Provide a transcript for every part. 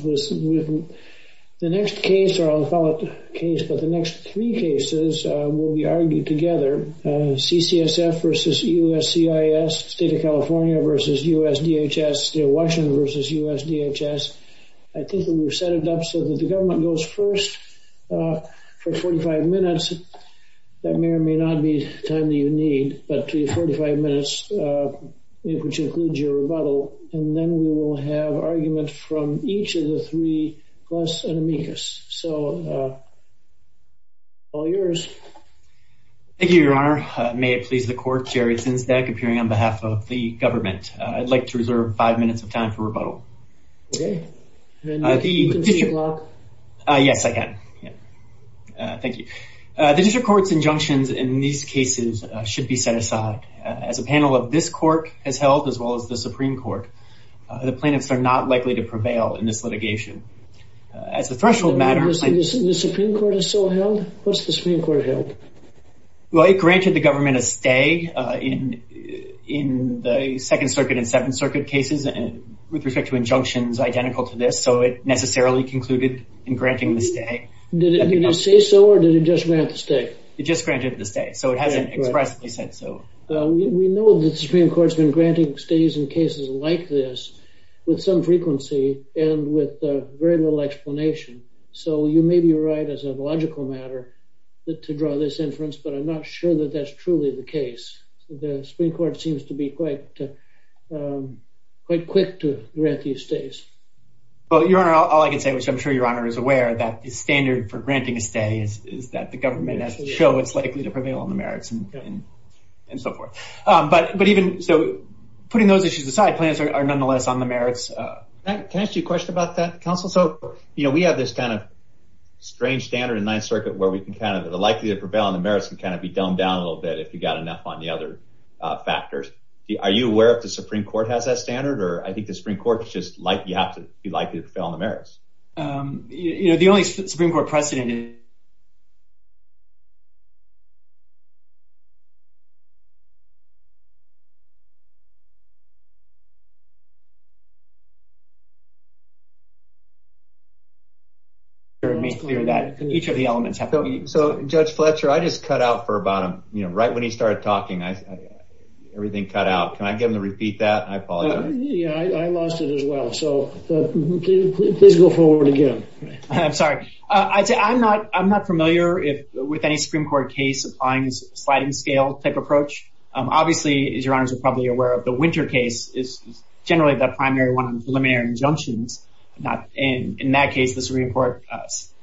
The next case will be argued together. CCSF v. USCIS, State of California v. U.S.D.H.S., Washington v. U.S.D.H.S. I think we will set it up so that government goes first for 45 minutes. That may or may not be the time that you need, but the 45 minutes may include your rebuttal. And then we will have arguments from each of the three plus an amicus. So, all yours. Thank you, Your Honor. May it please the court, Jerry Sinsbeck, appearing on behalf of the government. I'd like to reserve five minutes of time for rebuttal. Okay. Then you can take it off. Yes, I can. Thank you. The district court's injunctions in these cases should be set aside. As a panel of this court has held, as well as the Supreme Court, the plaintiffs are not likely to prevail in this litigation. As a threshold matter... The Supreme Court has still held? What's the Supreme Court held? Well, it granted the government a stay in the Second Circuit and Second Circuit cases with respect to injunctions identical to this. So, it necessarily concluded in granting the stay. Did it say so, or did it just grant the stay? It just granted the stay. So, it hasn't expressed that it said so. We know that the Supreme Court's been granting stays in cases like this with some frequency and with very little explanation. So, you may be right as a logical matter to draw this inference, but I'm not sure that that's truly the case. The Supreme Court seems to be quite quick to grant these stays. Your Honor, all I can say is I'm sure Your Honor is aware that the standard for granting a stay is that the government has to show it's likely to prevail on the merits and so forth. But even... So, putting those issues aside, plaintiffs are nonetheless on the merits. Can I ask you a question about that, counsel? So, you know, we have this kind of strange standard in Ninth Circuit where we can kind of... The likelihood to prevail on the merits can kind of be down a little bit if you've got enough on the other factors. Are you aware if the Supreme Court has that standard, or I think the Supreme Court is just likely to have to... be likely to prevail on the merits. You know, the only Supreme Court precedent is... Each of the elements have to be... So, Judge Fletcher, I just cut out for about, you know, right when he started talking, everything cut out. Can I get him to repeat that? I apologize. Yeah, I lost it as well. So, please go forward again. I'm sorry. I'm not familiar with any Supreme Court case applying a sliding scale type approach. Obviously, as Your Honor is probably aware of, the Winter case is generally the primary one with preliminary injunctions. In that case, the Supreme Court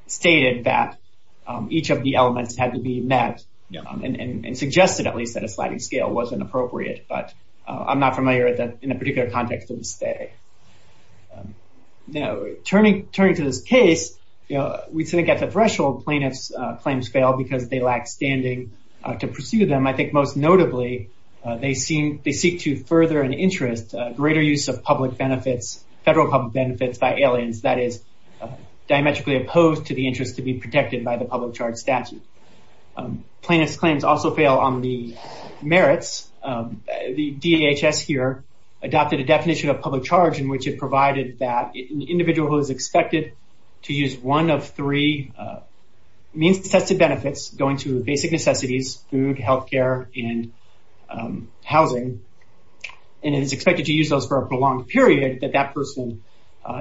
stated that each of the elements had to be met and suggested, at least, that a sliding scale was inappropriate. But I'm not familiar with that in a particular context. Now, turning to this case, we think at the threshold plaintiff's claims fail because they lack standing to pursue them. I think most notably, they seek to further an interest, greater use of public benefits, federal public benefits by aliens that is diametrically opposed to the interest to be protected by the public charge statute. Plaintiff's claims also fail on the merits. The DHS here adopted a definition of public charge in which it provided that an individual who is expected to use one of three means-tested benefits, going to basic necessities, food, health care, and housing, and is expected to use those for a prolonged period, that that person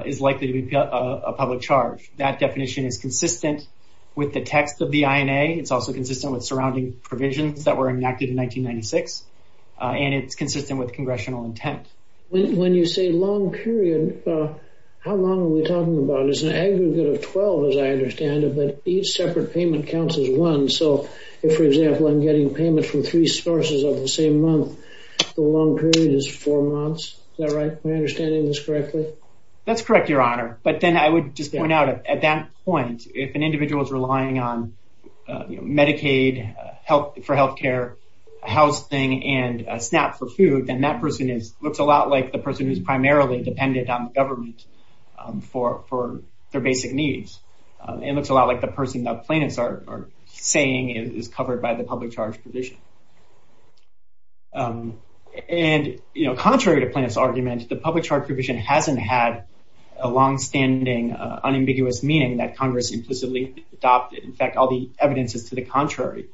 is likely to be a public charge. That definition is consistent with the text of the INA. It's also consistent with surrounding provisions that were enacted in 1996. And it's consistent with congressional intent. When you say long period, how long are we talking about? There's an aggregate of 12, as I understand it, but each separate payment counts as one. So if, for example, I'm getting payment from three sources over the same month, the long period is four months. Is that right? Am I understanding this correctly? That's correct, Your Honor. But then I would just point out, at that point, if an individual is relying on Medicaid for health care, housing, and SNAP for food, then that person looks a lot like the person who's primarily dependent on government for their basic needs. It looks a lot like the person that plaintiffs are saying is covered by the public charge provision. And contrary to plaintiffs' arguments, the public charge provision hasn't had a long-standing, unambiguous meaning that Congress implicitly adopted. In fact, all the evidence is to the contrary.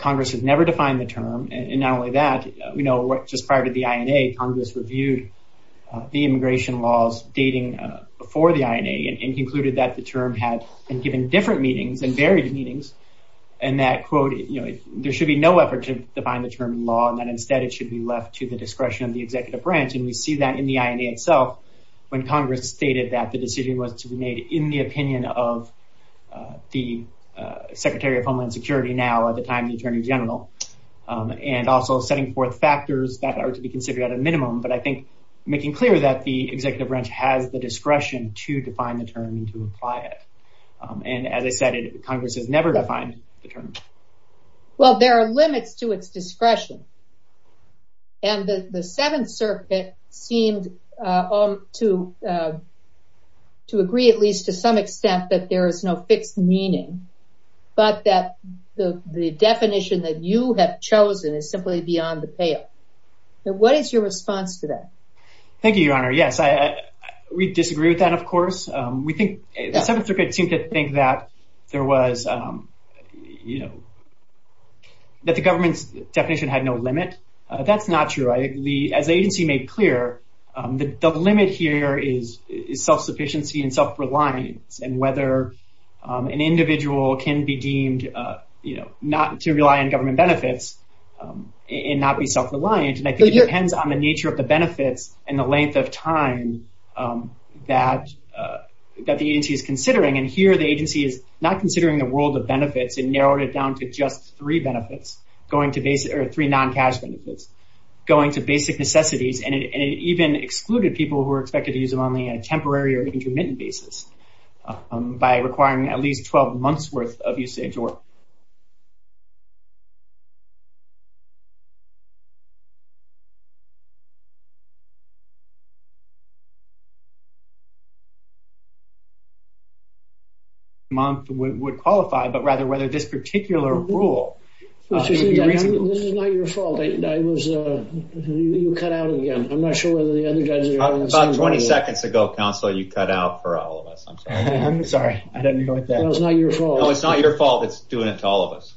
Congress has never defined the term, and not only that, just prior to the INA, Congress reviewed the immigration laws dating before the INA, and concluded that the term had been given in different meetings, in various meetings, and that, quote, you know, there should be no effort to define the term in law, and that instead it should be left to the discretion of the executive branch. And we see that in the INA itself when Congress stated that the decision was to be made in the opinion of the Secretary of Homeland Security now, at the time the Attorney General. And also setting forth factors that are to be considered at a minimum, but I think making clear that the executive branch has the discretion to define the term and to apply it. And as I said, Congress has never defined the term. Well, there are limits to its discretion. And the Seventh Circuit seemed to agree at least to some extent that there is no fixed meaning, but that the definition that you have chosen is simply beyond the pale. So what is your response to that? Thank you, Your Honor. Yes, we disagree with that, of course. We think, the Seventh Circuit seemed to think that there was, you know, that the government's definition had no limit. That's not true. As the agency made clear, the limit here is self-sufficiency and self-reliance, and whether an individual can be deemed, you know, not to rely on government benefits and not be self-reliant. And I think it depends on the nature of the benefits and the length of time that the agency is considering. And here the agency is not considering the world of benefits and narrowed it down to just three benefits, going to basic, or three non-tax benefits, going to basic necessities, and it even excluded people who were expected to use them on a temporary or intermittent basis. By requiring at least 12 months' worth of usage or... ...months would qualify, but rather whether this particular rule... This is not your fault. I was... You cut out again. I'm not sure whether the other guys... About 20 seconds ago, counsel, you cut out for all of us. I'm sorry. I didn't mean it like that. No, it's not your fault. No, it's not your fault. It's doing it to all of us.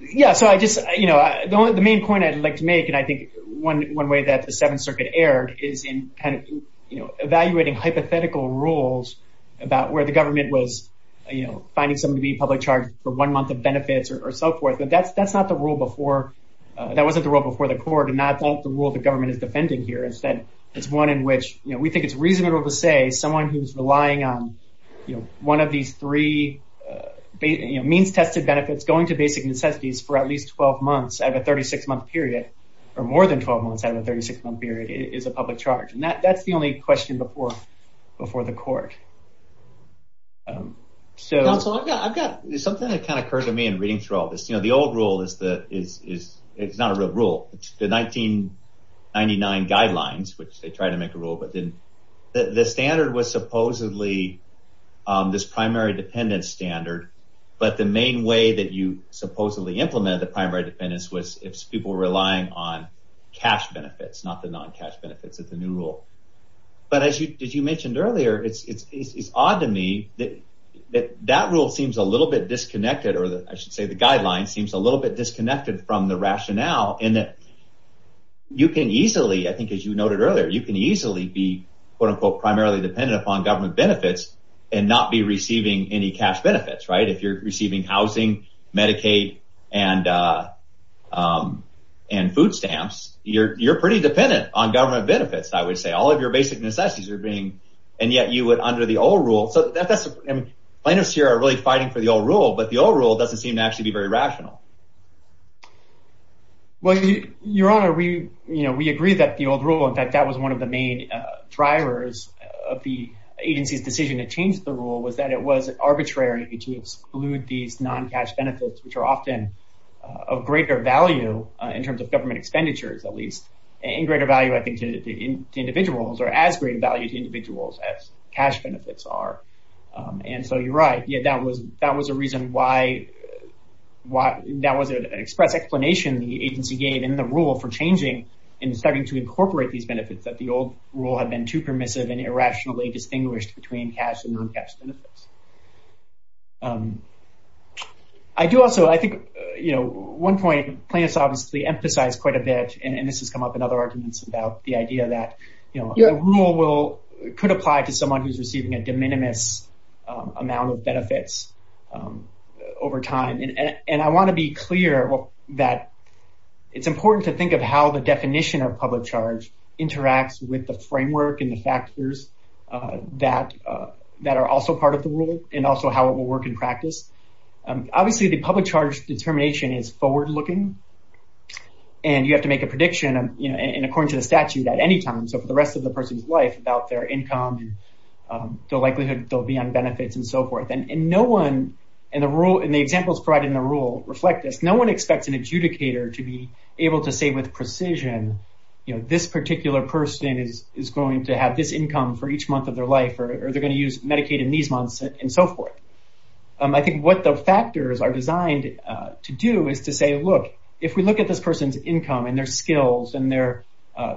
Yeah, so I just, you know, the main point I'd like to make, and I think one way that the Seventh Circuit erred, is in kind of, you know, evaluating hypothetical rules about where the government was, you know, finding someone to be in public charge for one month of benefits or so forth. That's not the rule before... That wasn't the rule before the court, and that's not the rule the government is defending here. Instead, it's one in which, you know, we think it's reasonable to say someone who's relying on, you know, one of these three means-tested benefits going to basic necessities for at least 12 months at a 36-month period, or more than 12 months at a 36-month period, is a public charge. And that's the only question before the court. So... Counsel, I've got... Something that kind of occurs to me in reading through all this, you know, the old rule is the... It's not a real rule. It's the 1999 guidelines, which they tried to make a rule, but didn't... The standard was supposedly this primary dependence standard, but the main way that you supposedly implemented the primary dependence was if people were relying on cash benefits, not the non-cash benefits. It's a new rule. But as you mentioned earlier, it's odd to me that that rule seems a little bit disconnected, or I should say the guideline seems a little bit disconnected from the rationale in that you can easily, I think as you noted earlier, you can easily be, quote-unquote, primarily dependent upon government benefits and not be receiving any cash benefits, right? If you're receiving housing, Medicaid and food stamps, you're pretty dependent on government benefits, I would say. All of your basic necessities are being... And yet you would, under the old rule... So that's... Plaintiffs here are really fighting for the old rule, but the old rule doesn't seem to actually be very rational. Well, Your Honor, we agree that the old rule, in fact, that was one of the main drivers of the agency's decision to change the rule was that it was arbitrary to exclude these non-cash benefits, which are often of greater value in terms of government expenditures, at least, and greater value, I think, to individuals or as great value to individuals as cash benefits are. And so you're right. That was a reason why... That was an express explanation the agency gave in the rule for changing and starting to incorporate these benefits that the old rule had been too permissive and irrationally distinguished between cash and non-cash benefits. I do also... I think, you know, at one point, plaintiffs obviously emphasized quite a bit, and this has come up in other arguments about the idea that, you know, a rule could apply to someone who's receiving a de minimis amount of benefits over time. And I want to be clear that it's important to think of how the definition of public charge interacts with the framework and the factors that are also part of the rule and also how it will work in practice. Obviously, the public charge determination is forward-looking, and you have to make a prediction, you know, and according to the statute, at any time, so for the rest of the person's life, about their income and the likelihood they'll be on benefits and so forth. And no one in the rule... In the examples provided in the rule reflect this. No one expects an adjudicator to be able to say with precision, you know, this particular person is going to have this income for each month of their life or they're going to use Medicaid in these months and so forth. I think what the factors are designed to do is to say, look, if we look at this person's income and their skills and their...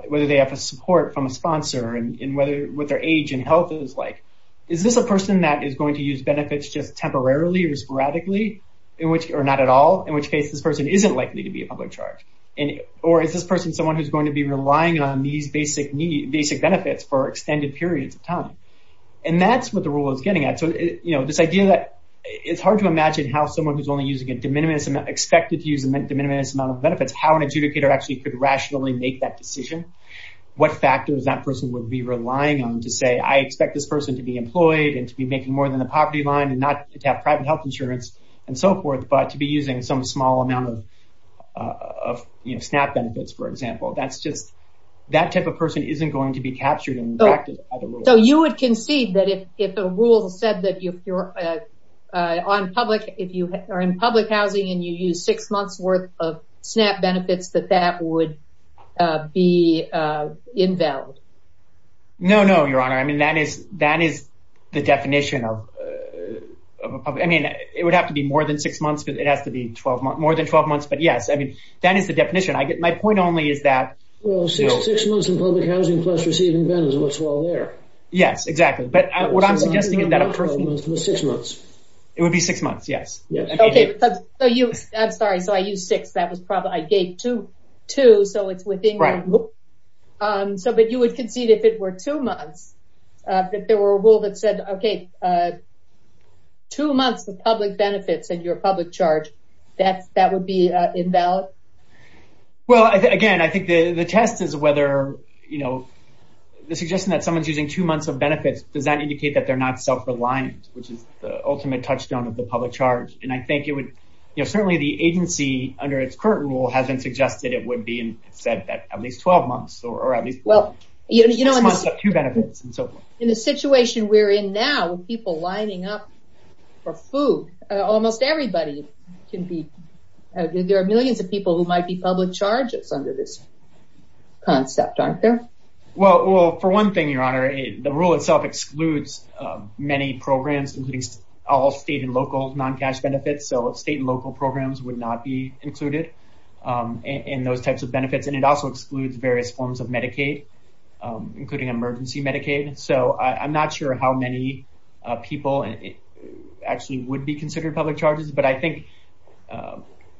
whether they have the support from a sponsor and what their age and health is like, is this a person that is going to use benefits just temporarily or sporadically in which... or not at all in which case this person isn't likely to be a public charge or is this person someone who's going to be relying on these basic needs, basic benefits for extended periods of time? And that's what the rule is getting at. So, you know, this idea that it's hard to imagine how someone who's only using a de minimis... expected to use a de minimis amount of benefits, how an adjudicator actually could rationally make that decision, what factors that person would be relying on to say, I expect this person to be employed and to be making more than the poverty line and not to have private health insurance and so forth but to be using some small amount of SNAP benefits, for example. That's just... that type of person isn't going to be captured and reacted as a rule. So you would concede that if a rule said that if you're... on public... if you are in public housing and you use six months' worth of SNAP benefits that that would be invalid? No, no, Your Honor. I mean, that is... that is a rule and that is the definition of... I mean, it would have to be more than six months because it has to be more than 12 months but yes, I mean, that is the definition. My point only is that... Well, six months in public housing plus receiving benefits looks well there. Yes, exactly. But what I'm suggesting is that a person... Six months. It would be six months, yes. Yes. So you... I'm sorry, so I used six. That was probably... I gave two, so it's within... Right. So that you would concede if it were two months that there were a rule that said, okay, two months of public benefits in your public charge, that would be invalid? Well, again, I think the test is whether, you know, the suggestion that someone's using two months of benefits, does that indicate that they're not self-reliant which is the ultimate touchstone of the public charge and I think it would... You know, certainly the agency under its current rule hasn't suggested it would be said that at least 12 months or at least... Well, you know... Two benefits and so forth. In the situation we're in now with people lining up for food, almost everybody can be... There are millions of people who might be public charges under this concept, aren't there? Well, for one thing, Your Honor, the rule itself excludes many programs, at least all state and local non-cash benefits, so state and local programs would not be included in those types of benefits and it also excludes various forms of Medicaid including emergency Medicaid, so I'm not sure how many people actually would be considered public charges but I think,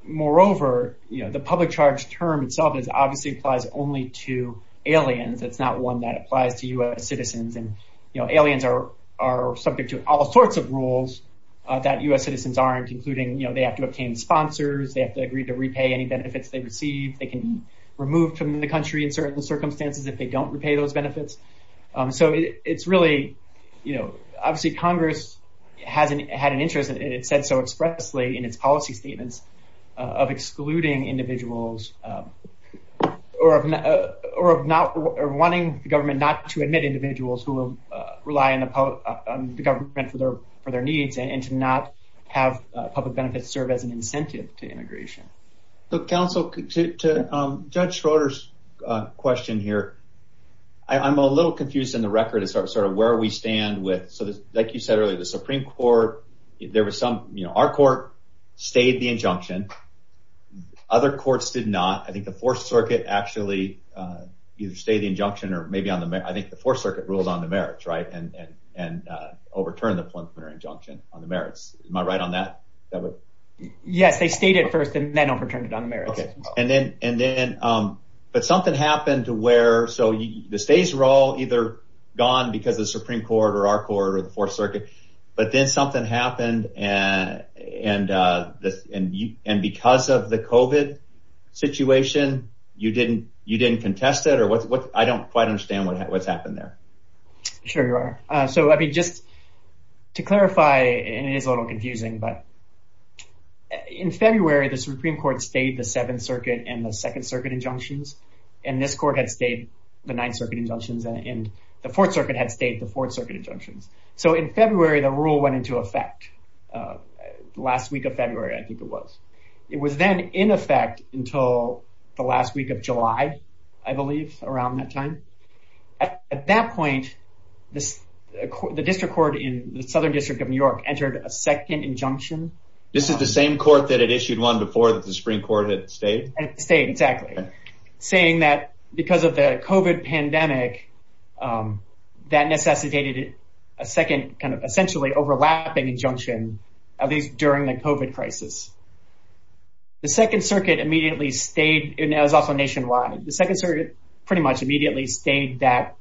moreover, you know, the public charge term itself obviously applies only to aliens. It's not one that applies to US citizens and, you know, aliens are subject to all sorts of rules that US citizens aren't including, you know, they have to obtain sponsors, they have to agree to repay any benefits they receive, they can be removed from the country in certain circumstances if they don't repay those benefits, so it's really, you know, obviously Congress had an interest and it said so expressly in its policy statements of excluding individuals or of not, or wanting the government not to admit individuals who rely on the government for their needs and to not have public benefits serve as an incentive to immigration. So counsel, to Judge Schroeder's question here, I'm a little confused in the record as to sort of where we stand with, so like you said earlier, the Supreme Court, there was some, you know, our court stayed the injunction, other courts did not, I think the Fourth Circuit actually either stayed the injunction or maybe on the merits, I think the Fourth Circuit ruled on the merits, right, and overturned the preliminary injunction on the merits. Am I right on that? Yes, they stayed it first and then overturned it on the merits. Okay, and then, but something happened to where, so the states were all either gone because of the Supreme Court or our court or the Fourth Circuit, but then something happened and because of the COVID situation, you didn't contest it or what, I don't quite understand what happened there. Sure you are. So let me just, to clarify, and it is a little confusing, but in February, the Supreme Court had stayed the Seventh Circuit and the Second Circuit injunctions and this court had stayed the Ninth Circuit injunctions and the Fourth Circuit had stayed the Fourth Circuit injunction. So in February, the rule went into effect last week of February, I think it was. It was then in effect until the last week of July, I believe, around that time. At that point, the district court in the Southern District of New York entered a second injunction. This is the same court that had issued one before that the Supreme Court had stayed. Stayed, exactly. Saying that because of the COVID pandemic, that necessitated a second, kind of, essentially overlapping injunction at least during the COVID crisis. The Second Circuit immediately stayed and that was also nationwide. The Second Circuit pretty much immediately stayed that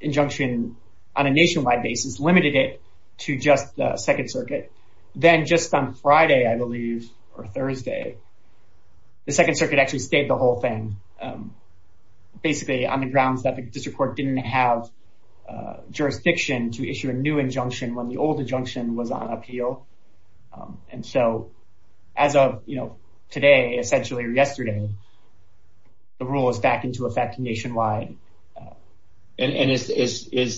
injunction on a nationwide basis, limited it to just the Second Circuit. Then just on Friday, I believe, or Thursday, the Second Circuit actually stayed the whole thing. Basically, on the grounds that the district court didn't have jurisdiction to issue a new injunction when the old injunction was on appeal. And so, as of, you know, today, essentially yesterday, the rule is back into effect nationwide. And is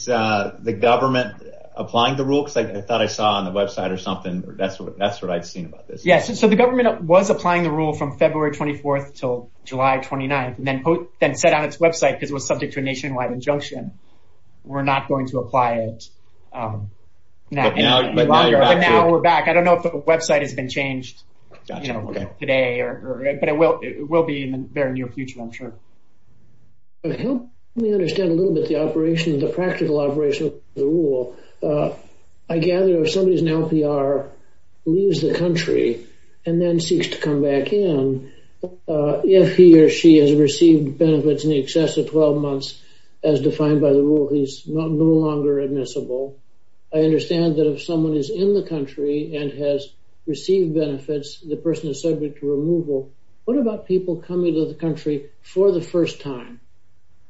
the government applying the rule? Because I thought I saw on the website or something, that's what I'd seen about this. Yes, so the government was applying the rule from February 24th until July 29th and then set out its website because it was subject to a nationwide injunction. We're not going to apply it. But now we're back. I don't know if the website has been changed today or, but it will be in the very near future, I'm sure. Let me understand a little bit the operation, the practical operation of the rule. I gather if somebody's in LPR leaves the country and then seeks to come back in, if he or she has received benefits in the excess of 12 months, as defined by the rule, he's no longer admissible. I understand that if someone is in the country and has received benefits, the person is subject to removal. What about people coming to the country for the first time?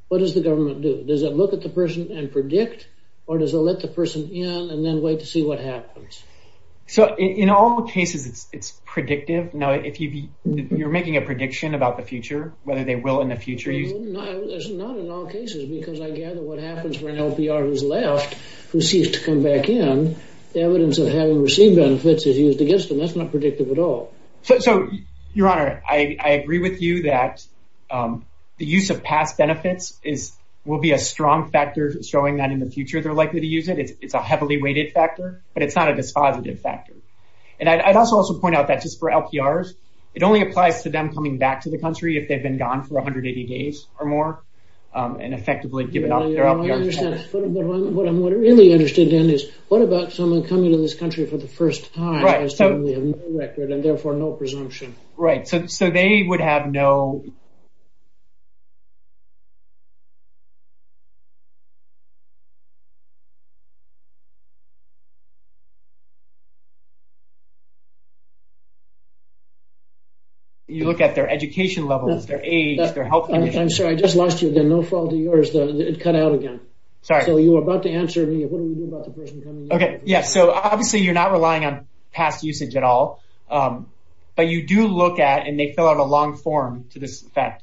What does the government do? Does it look at the person and predict? Or does it let the person in and then wait to see what happens? So in all cases, it's predictive. Now, if you're making a prediction about the future, whether they will in the future. It's not in all cases because I gather what happens when LPR has left and seeks to come back in, the evidence of having received benefits is used against them. That's not predictive at all. So, Your Honor, I agree with you that the use of past benefits will be a strong factor in showing that in the future they're likely to use it. It's a heavily weighted factor, but it's not a dispositive factor. And I'd also point out that just for LPRs, it only applies to them coming back to the country if they've been gone for 180 days or more and effectively given up their LPR status. What I'm really interested in is what about someone coming to this country for the first time has definitely a no record and therefore no presumption? Right. So they would have no... You look at their education level, their age, their health condition... I'm sorry. I just lost you again. No fault of yours. It cut out again. Sorry. So you were about to answer me. What do you do about the person coming... Okay. Yeah. So obviously you're not relying on past usage at all, but you do look at and they fill out a long form to this effect.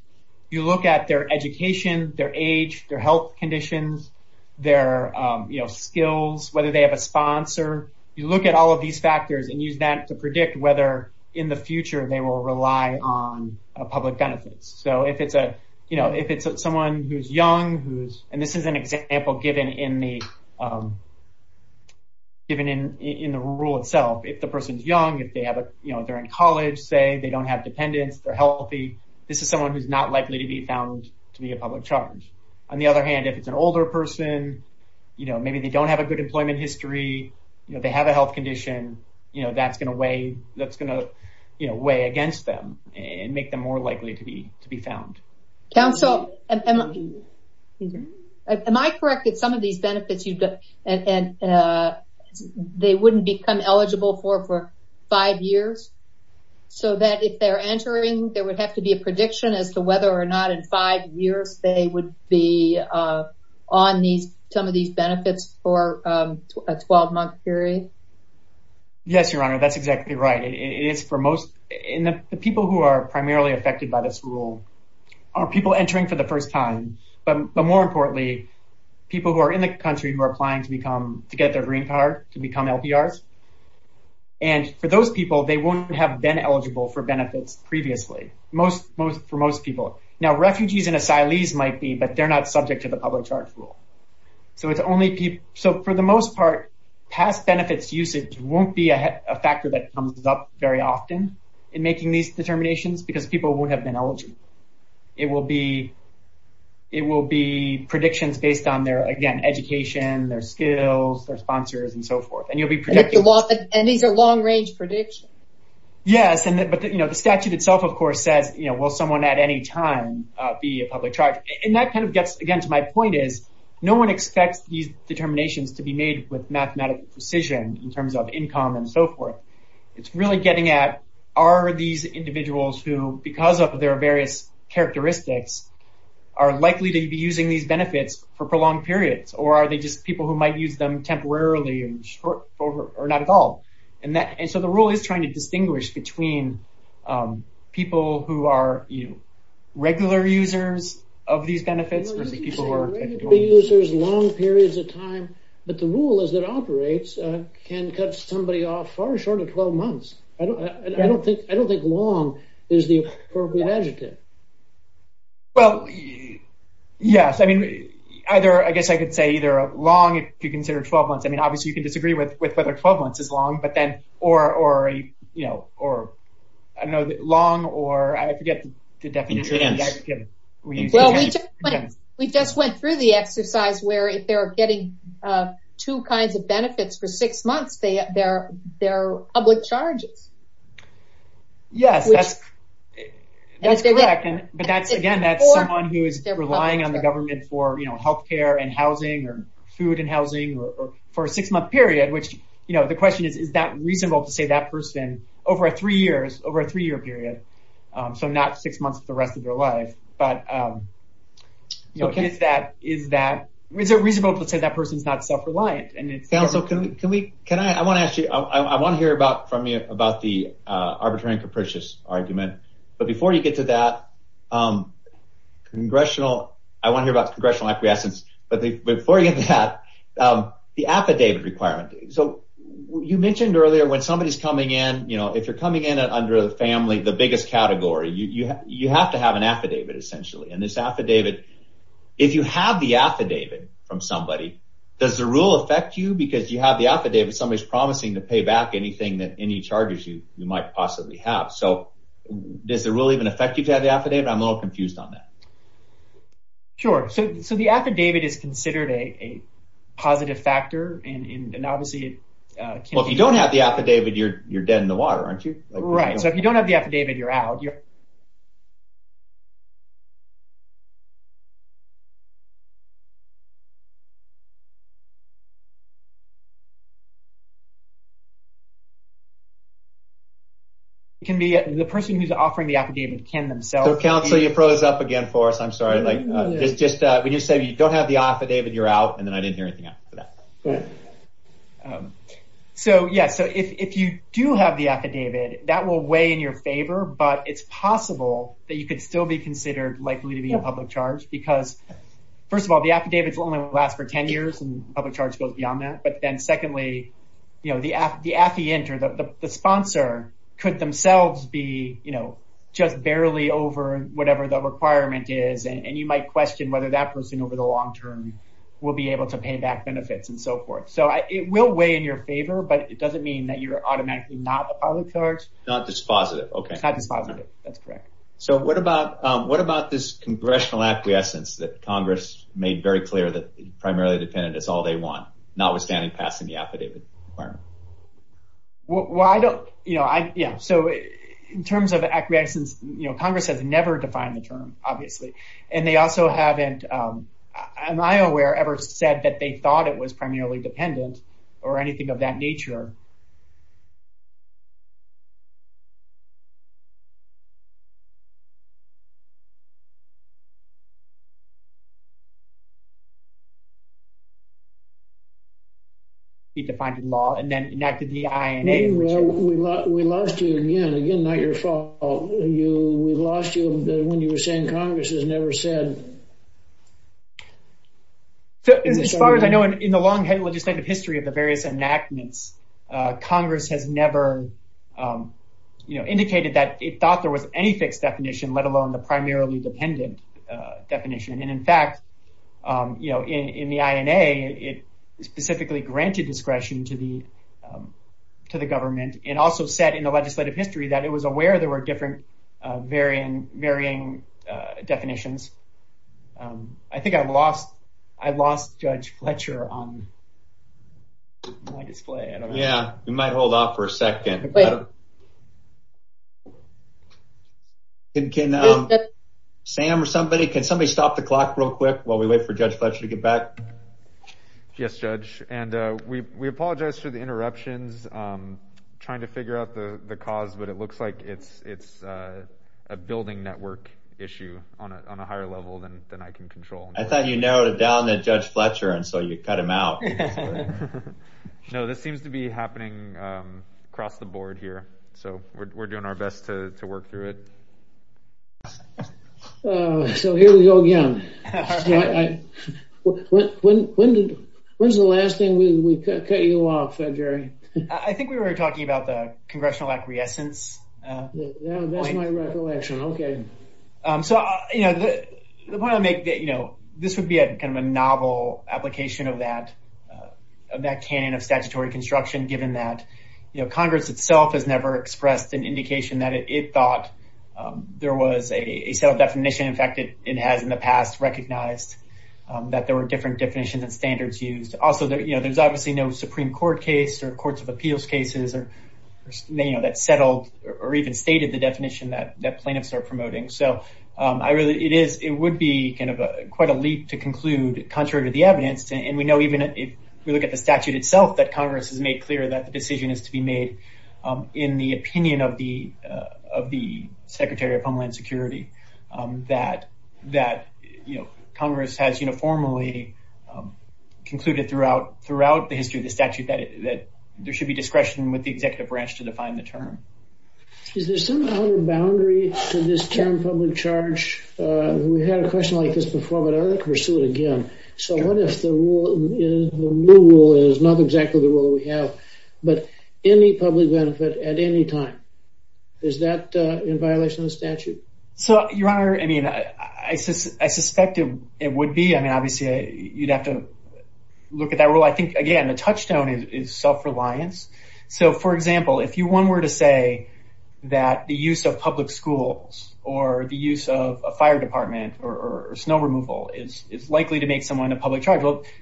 You look at their education, their age, their health conditions, their, you know, skills, whether they have a sponsor. You look at all of these factors and use that to predict whether in the future they will rely on public benefits. So if it's a, you know, if it's someone who's young, who's... And this is an example given in the rule itself. If the person's young, if they have, you know, they're in college, say, they don't have dependents, they're healthy, this is someone who's not likely to be found to be a public charge. On the other hand, if it's an older person, you know, maybe they don't have a good employment history, you know, they have a health condition, you know, that's going to weigh, that's going to, you know, weigh against them and make them more likely to be found. Council, am I correct that some of these benefits, they wouldn't become eligible for five years? So that if they're entering, there would have to be a prediction as to whether or not in five years they would be on some of these benefits for a 12-month period? Yes, Your Honor, that's exactly right. It is for most, and the people who are primarily affected by this rule are people entering for the first time, but more importantly, people who are in the country who are applying to become, to get their green card, to become LPRs, and for those people, they wouldn't have been eligible for benefits previously, for most people. Now, refugees and asylees might be, but they're not subject to the public charge rule. So for the most part, past benefits usage won't be a factor that comes up very often in making these determinations because people won't have been eligible. It will be predictions based on their, again, education, their skills, their sponsors, and so forth. And these are long-range predictions. Yes, but the statute itself, of course, said will someone at any time be a public charge? And that kind of gets, again, to my point is, no one expects these determinations to be made with mathematical precision in terms of income and so forth. It's really getting at, are these individuals who, because of their various characteristics, are likely to be using these benefits for prolonged periods, or are they just people who might use them temporarily or not at all? And so the rule is trying to distinguish between people who are regular users of these benefits and people who are... Regular users, long periods of time, but the rule is that operates can cut somebody off far short of 12 months. I don't think long is the appropriate adjective. Well, yes. I mean, either, I guess I could say either long, if you consider 12 months. I mean, obviously, you can disagree with whether 12 months is long, but then, or, you know, or, I don't know, long or, I forget the definition. I'm just kidding. We just went through the exercise where if they're getting two kinds of benefits for six months, they're public charged. Yes. That's correct. But, again, that's someone who is relying on the government for health care and housing or food and housing for a six-month period, which, you know, the question is, is that reasonable to say that person over a three-year period, so not six months the rest of their life? But, you know, is that, is that, is it reasonable to say that person is not self-reliant? And it sounds so, can we, can I, I want to ask you, I want to hear about, from you, about the arbitrary and capricious argument, but before you get to that, congressional, I want to hear about congressional actions, but before you get to that, the affidavit requirement. So, you mentioned earlier when somebody's coming in, you know, if you're coming in under the family, the biggest category, you have to have an affidavit, essentially, and this affidavit, if you have the affidavit from somebody, does the rule affect you because you have the affidavit somebody's promising to pay back anything, any charges you might possibly have? So, does the rule even affect you to have the affidavit? I'm a little confused on that. Sure. So, the affidavit is considered a positive factor, and obviously, Well, if you don't have the affidavit, you're dead in the water, aren't you? Right. So, if you don't have the affidavit, you're out. It can be the person who's offering the affidavit can themselves be Counselor, you froze up again for us. I'm sorry. It's just, when you said you don't have the affidavit, you're out, and then I didn't hear anything after that. So, yeah, so, if you do have the affidavit, that will weigh in your favor, but it's possible that you could still be considered likely to be a public charge, because, first of all, the affidavits only last for 10 years, and public charge goes beyond that. But then, secondly, you know, the sponsor could themselves be, you know, just barely over and you might question whether that person over the long term will be able to pay back benefits and so forth. So, it will weigh in your favor, but it doesn't mean that you're automatically not a public charge. Not dispositive. Okay. Not dispositive. That's correct. So, what about this congressional acquiescence that Congress made very clear that primarily dependent is all they want, notwithstanding passing the affidavit? Well, I don't, you know, I, yeah, so, in terms of acquiescence, you know, Congress has never defined the term, obviously, and they also haven't, am I aware, ever said that they thought it was primarily dependent or anything of that nature? Defined in law and then enacted the INA? No, we lost you again. Again, not your fault. You, we lost you when you were saying Congress has never said. So, as far as I know, in the long legislative history of the various enactments, Congress has never, you know, indicated that it thought there was any fixed definition, let alone the primarily dependent definition. And, in fact, you know, in the INA, it specifically granted discretion to the, to the government and also said in the legislative history that it was aware there were different varying, varying definitions. I think I've lost, I've lost Judge Fletcher on my display. Yeah, you might hold off for a second. Can, Sam or somebody, can somebody stop the clock real quick while we wait for Judge Fletcher to get back? Yes, Judge, and we, we apologize for the interruptions. I'm trying to figure out the, the cause, but it looks like it's, it's a building network issue on a, on a higher level than, than I can control. I thought you narrowed it down to Judge Fletcher and so you cut him out. No, this seems to be happening across the board here. So we're, we're doing our best to work through it. Oh, so here we go again. When, when did, when's the last time we cut you off, said Jerry? I think we were talking about the congressional acquiescence. Yeah, that's my recollection. Okay. So, you know, the point I make that, you know, this would be a, kind of a novel application of that, of that can of statutory construction, given that, you know, Congress itself has never expressed an indication that it thought there was a set of definition. In fact, it had in the past recognized that there were different definitions and standards used. Also, you know, there's obviously no Supreme court case or courts of appeals cases or, you know, that settled or even stated the definition that, that plaintiffs are promoting. So I really, it is, it would be kind of a, quite a leap to conclude contrary to the evidence. And we know, even if we look at the statute itself, that Congress has made clear that the decision is to be made in the opinion of the, of the secretary of Homeland Security, that, that, you know, Congress has, you know, formally concluded throughout, throughout the history of the statute that there should be discretion with the executive branch to define the term. Is there some other boundary to this term public charge we've had a question like this before, but I'd like to pursue it again. So what if the rule is, the new rule is not exactly the rule we have, but any public benefit at any time, is that in violation of the statute? So your honor, I mean, I suspect it would be, I mean, obviously you'd have to look at that rule. I think again, the touchstone is self-reliance. So for example, if you one were to say that the use of public schools or the use of a fire department or snow removal, it's likely to make someone a public charge.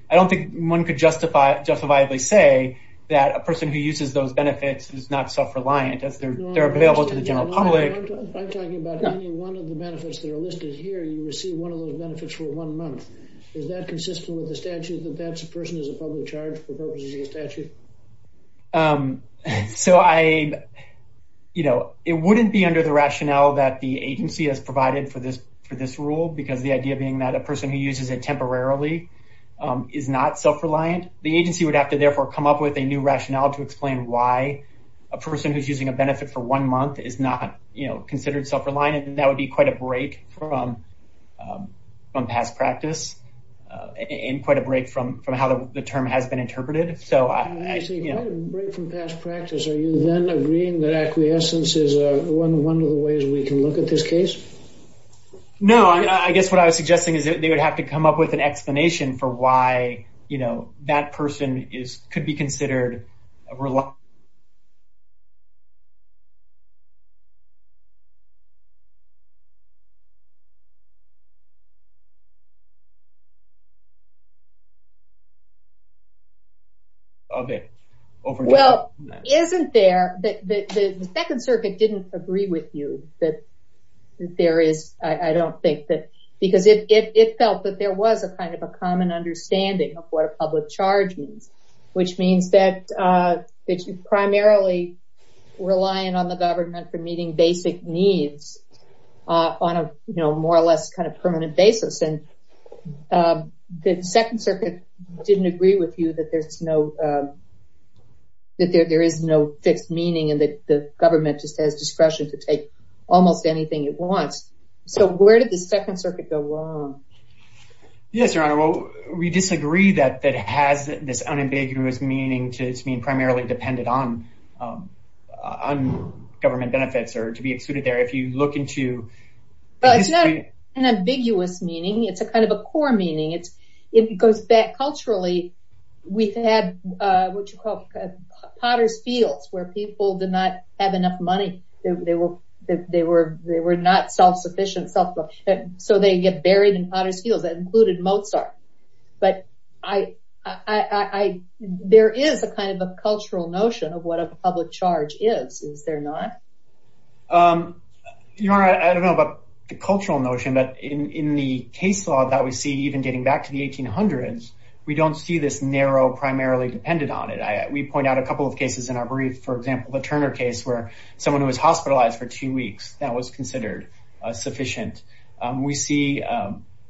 I don't think one could justify, justifiably say that a person who uses those benefits is not self-reliant as they're available to the general public. I'm talking about any one of the benefits that are listed here, you receive one of those benefits for one month. Is that consistent with the statute that that's a person who's a public charge without using a statute? So I, you know, it wouldn't be under the rationale that the agency has provided for this, for this rule, because the idea being that a person who uses it temporarily is not self-reliant. The agency would have to therefore come up with a new rationale to explain why a person who's using a benefit for one month is not, you know, considered self-reliant. And that would be quite a break from, from past practice and quite a break from, from how the term has been interpreted. So I, I see, quite a break from past practice. Are you then agreeing that acquiescence is one, one of the ways we can look at this case? No, I guess what I was suggesting is they would have to come up with an explanation for why, you know, that person is, could be considered a reluctant... Okay. Well, isn't there, the, the Second Circuit didn't agree with you that there is, I, I don't think that, because it, it, it felt that there was a kind of a common understanding of what a public charge means, which means that, that you're primarily relying on the government for meeting basic needs on a, you know, more or less kind of permanent basis. And the Second Circuit didn't agree with you that there's no, that there, there is no fixed meaning and that the government just has discretion to take almost anything it wants. So, where did the Second Circuit go wrong? Yes, Your Honor. Well, we disagree that, that has this unambiguous meaning to its being primarily dependent on, on government benefits or to be excluded there. If you look into... It's not an ambiguous meaning. It's a kind of a core meaning. It goes back culturally. We've had, what you call potter's fields where people did not have enough money. They were, they were, they were not self-sufficient. So they get buried in potter's fields. That included Mozart. But, I, I, there is a kind of a cultural notion of what a public charge is. Is there not? Your Honor, I don't know about the cultural notion, but in the case law that we see, even getting back to the 1800s, we don't see this narrow, primarily dependent on it. We point out a couple of cases in our brief. For example, the Turner case where someone who was hospitalized for two weeks, that was considered sufficient. We see,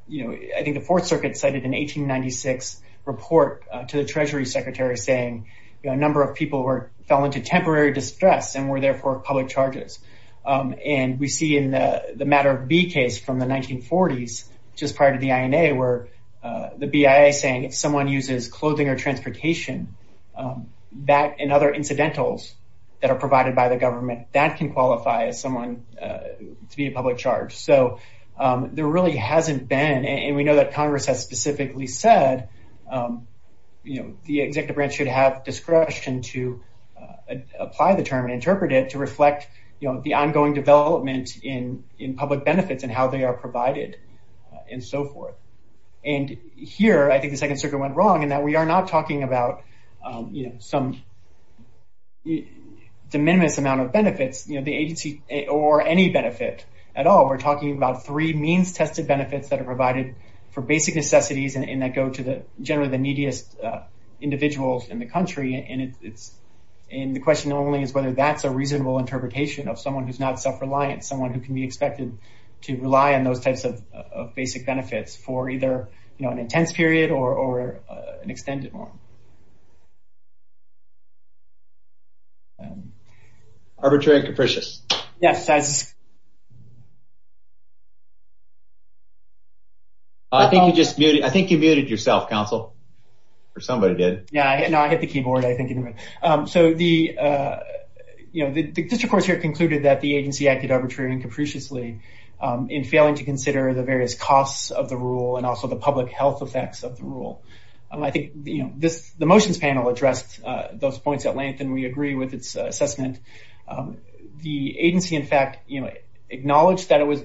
you know, I think the fourth circuit cited an 1896 report to the treasury secretary saying, you know, a number of people were, fell into temporary distress and were therefore public charges. And we see in the, the matter of B case from the 1940s, just prior to the INA, where the BIA saying, if someone uses clothing or transportation that, and other incidentals that are provided by the government that can qualify as someone to be a public charge. So there really hasn't been, and we know that Congress has specifically said, you know, the executive branch should have discretion to apply the term and interpret it to reflect, you know, the ongoing development in, in public benefits and how they are provided and so forth. And here, I think the second circuit went wrong and that we are not talking about, you know, some de minimis amount of benefits, you know, the agency or any benefit at all. We're talking about three means tested benefits that are provided for basic necessities and that go to the generally the neediest individuals in the country. And it's, and the question only is whether that's a reasonable interpretation of someone who's not self-reliant, someone who can be expected to rely on those types of basic benefits for either, you know, an intense period or, or an extended one. Arbitrary capricious. Yes. I think you just, I think you muted yourself counsel or somebody did. Yeah, I hit the keyboard. I think, so the, you know, the district court here concluded that the agency acted arbitrarily and capriciously in failing to consider the various costs of the rule and also the public health effects of the rule. I think, you know, the motions panel addressed those points at length and we agree with its assessment. The agency, in fact, you know, acknowledged that it was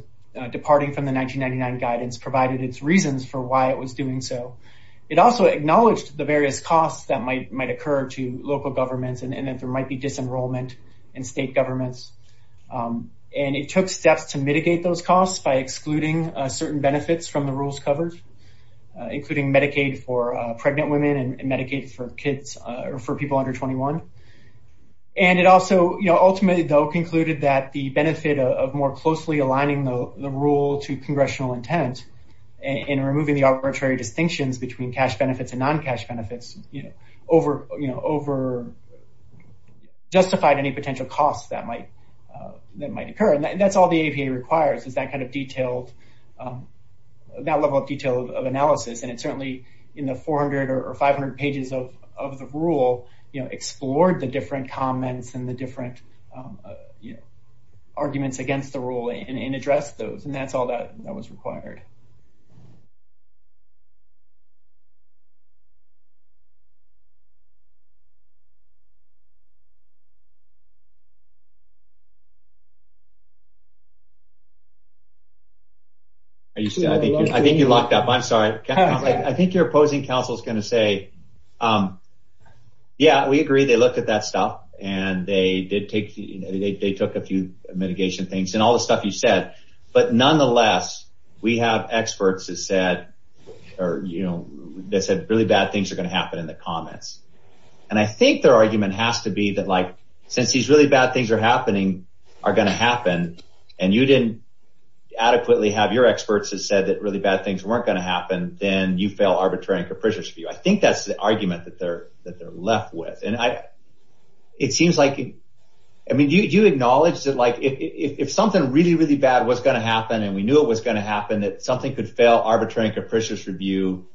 departing from the 1999 guidance provided its reasons for why it was doing so. It also acknowledged the various costs that might, might occur to local governments. And then there might be disenrollment in state governments. And it took steps to mitigate those costs by excluding certain benefits from the rules covers, including Medicaid for pregnant women and Medicaid for kids or for people under 21. And it also, you know, ultimately though concluded that the benefit of more closely aligning the rule to congressional intent and removing the arbitrary distinctions between cash benefits and non-cash benefits, you know, over, you know, over justified any potential costs that might, that might occur. And that's all the APA requires is that kind of detailed, that level of details of analysis. And it certainly, you know, 400 or 500 pages of, of the rule, you know, explored the different comments and the different, you know, arguments against the rule in, in address those. And that's all that was required. Are you still, I think you're locked up. I'm sorry. Okay. I think you're opposing. Counsel's going to say, yeah, we agree. They looked at that stuff and they did take the, we have a, we have a, we have a, we have a, we have a, we have a, we have a, we have a, we have. We have experts. Or, you know, there's a really bad things are going to happen in the comments. And I think their argument has to be the life. Since these really bad things were happening. I think that's the argument that they're left with. And I, it seems like. I mean, do you acknowledge that? Like, if something really, really bad, what's going to happen? And we knew it was going to happen, that something could fail. Arbitrary. Capricious review.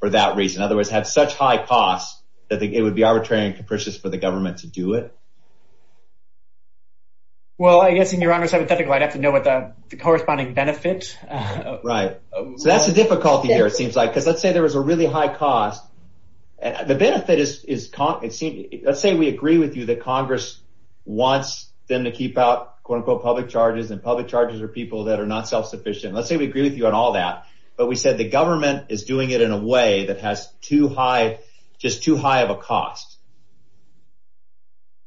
For that reason. Otherwise have such high costs. I think it would be arbitrary and capricious for the government to do it. Well, I guess in your arm or something, I'd have to know what the corresponding benefits. Right. That's a difficulty here. It seems like, because let's say there was a really high cost. The benefit is, is. Let's say we agree with you that Congress. Wants them to keep out quote unquote, public charges and public charges for people that are not self-sufficient. Let's say we agree with you on all that, but we said the government is doing it in a way that has too high. Just too high of a cost.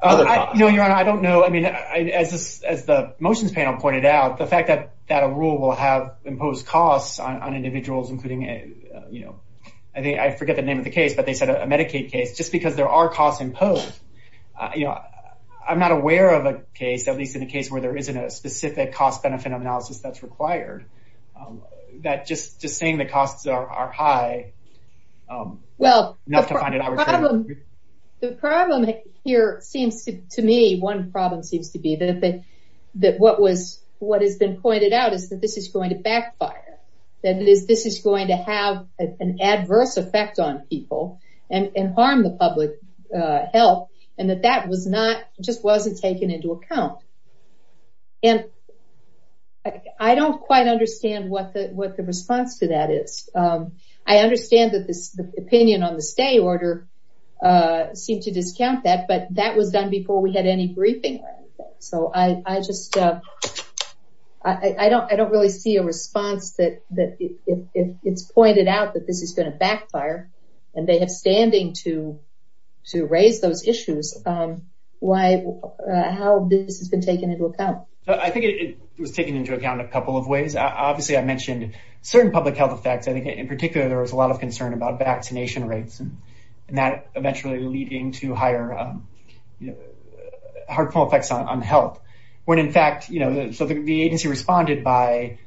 No, I don't know. I mean, as the motions pointed out, the fact that that rule will have imposed costs on individuals, including, you know, I mean, I forget the name of the case, but they said a Medicaid case, just because there are costs imposed. I'm not aware of a case, at least in a case where there isn't a specific cost benefit analysis that's required. That just, just saying the costs are high. Well, not to find it. The problem here seems to me, one problem seems to be that. That what was, what has been pointed out is that this is going to backfire. Then this is going to have an adverse effect on people and harm the public health. And that that was not just wasn't taken into account. And. I don't quite understand what the, what the response to that is. I understand that the opinion on the stay order. Seem to discount that, but that was done before we had any briefing. So I, I just, I don't, I don't really see a response that, that is pointed out that this has been a backfire. And they have standing to, to raise those issues. Why, how this has been taken into account. I think it was taken into account a couple of ways. Obviously I mentioned certain public health effects. I think in particular, there was a lot of concern about vaccination rates. And that eventually leading to higher. Heartful effects on health. When in fact, you know, so the agency responded by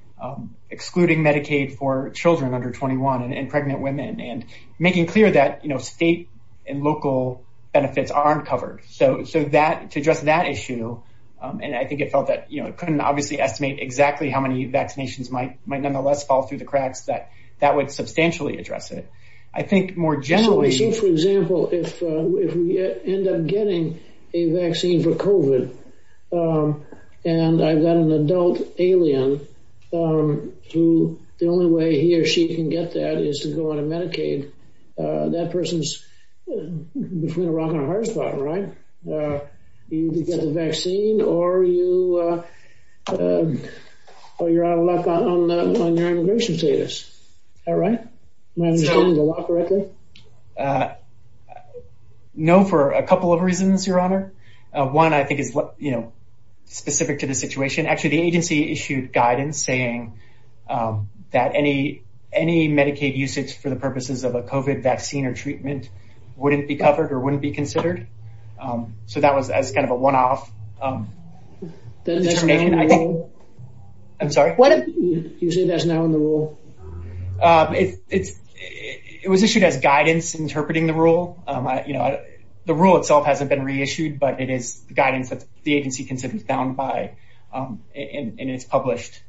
excluding Medicaid for children under 21 and pregnant women and making clear that, you know, state and local benefits aren't covered. So, so that to address that issue. And I think it felt that, you know, I couldn't obviously estimate exactly how many vaccinations might, might nonetheless fall through the cracks that that would substantially address it. I think more generally, for example, if we end up getting a vaccine for COVID. And I've got an adult alien. The only way he or she can get that is to go on a Medicaid. That person's between a rock and a hard spot, right? You get the vaccine or you. Oh, you're out of luck on immigration status. All right. No, for a couple of reasons, your honor. One, I think it's, you know, specific to the situation, actually the agency issued guidance saying that any, any Medicaid usage for the purposes of a COVID vaccine or treatment, wouldn't be covered or wouldn't be considered. So that was as kind of a one-off. I'm sorry. What do you say that's now in the rule? It was issued as guidance interpreting the rule. You know, the rule itself hasn't been reissued, but it is guidance that the agency can sit down by and it's published.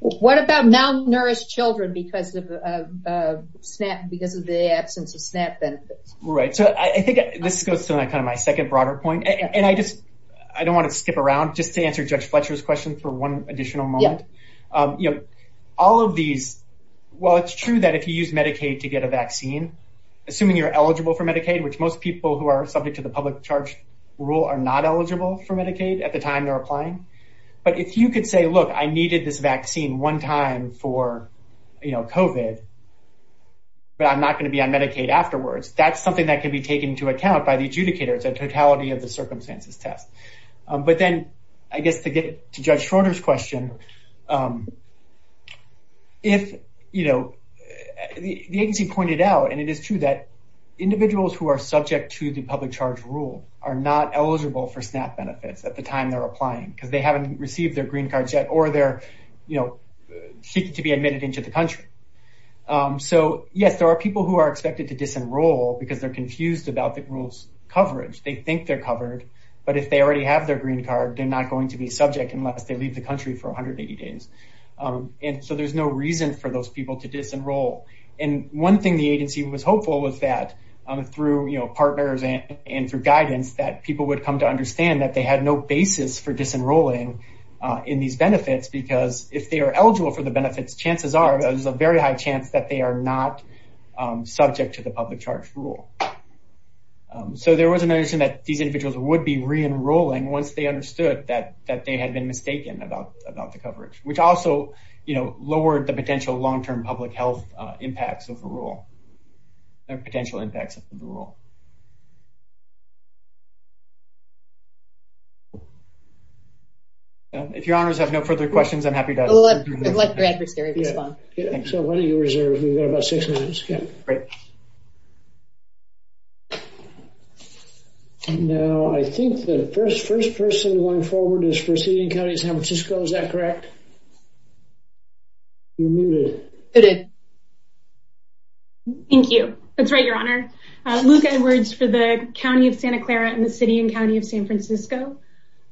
What about non-nurse children? Because of the SNAP, because of the absence of SNAP benefits. Right. So I think this goes to that kind of my second broader point, and I just, I don't want to skip around just to answer judge Fletcher's question for one additional month. All of these. Well, it's true that if you use Medicaid to get a vaccine, assuming you're eligible for Medicaid, which most people who are subject to the public charge rule are not eligible for Medicaid at the time they're applying. But if you could say, look, I needed this vaccine one time for COVID, but I'm not going to be on Medicaid afterwards. That's something that could be taken into account by the adjudicator. It's a totality of the circumstances test. But then I get to get to judge Schroeder's question. If, you know, the agency pointed out, and it is true that individuals who are subject to the public charge rule are not eligible for SNAP benefits at the time they're applying because they haven't received their green cards yet or they're, you know, seeking to be admitted into the country. So yes, there are people who are expected to disenroll because they're confused about the rules coverage. They think they're covered, but if they already have their green card, they're not going to be subject unless they leave the country for 180 days. And so there's no reason for those people to disenroll. And one thing the agency was hopeful is that through, you know, partners and for guidance that people would come to understand that they had no basis for disenrolling in these benefits, because if they are eligible for the benefits, chances are there's a very high chance that they are not subject to the public charge rule. So there was a notion that these individuals would be re-enrolling once they understood that, that they had been mistaken about the coverage, which also, you know, Potential impacts of the rule. If your honors have no further questions, I'm happy to. What's your adversary? Yeah. So what are you reserved? We've got about six minutes. Great. No, I think the first, first person going forward is proceeding. County San Francisco. Is that correct? Thank you. That's right. Your honor, Luke Edwards for the county of Santa Clara and the city and county of San Francisco.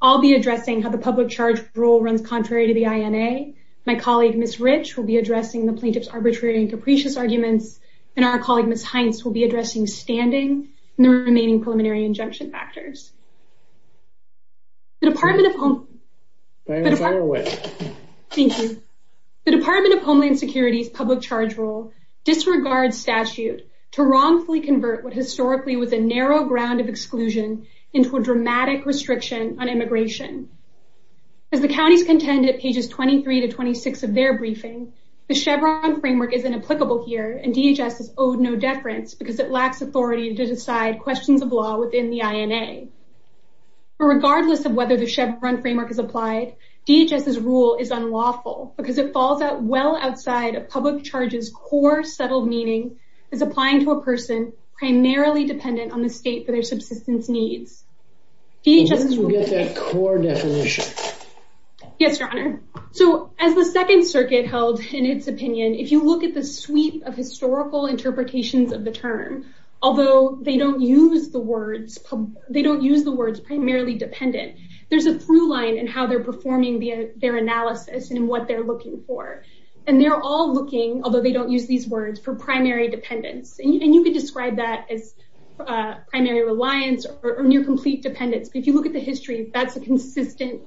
I'll be addressing how the public charge rule runs. Contrary to the INA. My colleague, Ms. Rich will be addressing the plaintiff's arbitrary and capricious arguments. And our colleague, Ms. Heinz will be addressing standing the remaining preliminary injunction factors. Thank you. The department of Homeland security, public charge rule disregard statute to wrongfully convert what historically was a narrow ground of exclusion into a dramatic restriction on immigration. As the county contended pages, 23 to 26 of their briefing, the Chevron framework isn't applicable here. And DHS is owed no deference because it lacks authority to decide questions of law within the INA. Regardless of whether the Chevron framework is applied, DHS rule is unlawful because it falls out. Well, outside of public charges, core settled meaning is applying to a person. It's primarily dependent on the state for their subsistence needs. Yes, your honor. So as the second circuit held in its opinion, if you look at the suite of historical interpretations of the term, although they don't use the words, they don't use the words primarily dependent. There's a blue line and how they're performing their analysis and what they're looking for. And they're all looking, although they don't use these words for primary dependence. And you can describe that as a primary reliance or near complete dependence. If you look at the history, that's a consistent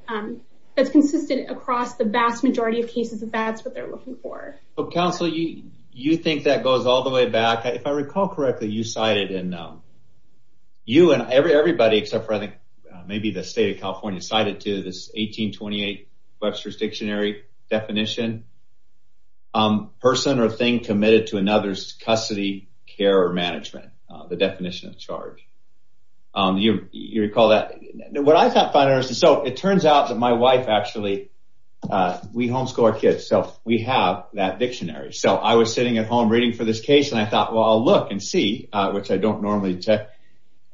that's consistent across the vast majority of cases of that's what they're looking for. So counsel, you think that goes all the way back. If I recall correctly, you cited in you and every everybody except for I think maybe the state of California cited to this 1828 Webster's dictionary definition. Person or thing committed to another's custody, care, or management, the definition of charge. You recall that. What I thought by nurse. And so it turns out that my wife actually we homeschool our kids. So we have that dictionary. So I was sitting at home reading for this case and I thought, well, I'll look and see which I don't normally check.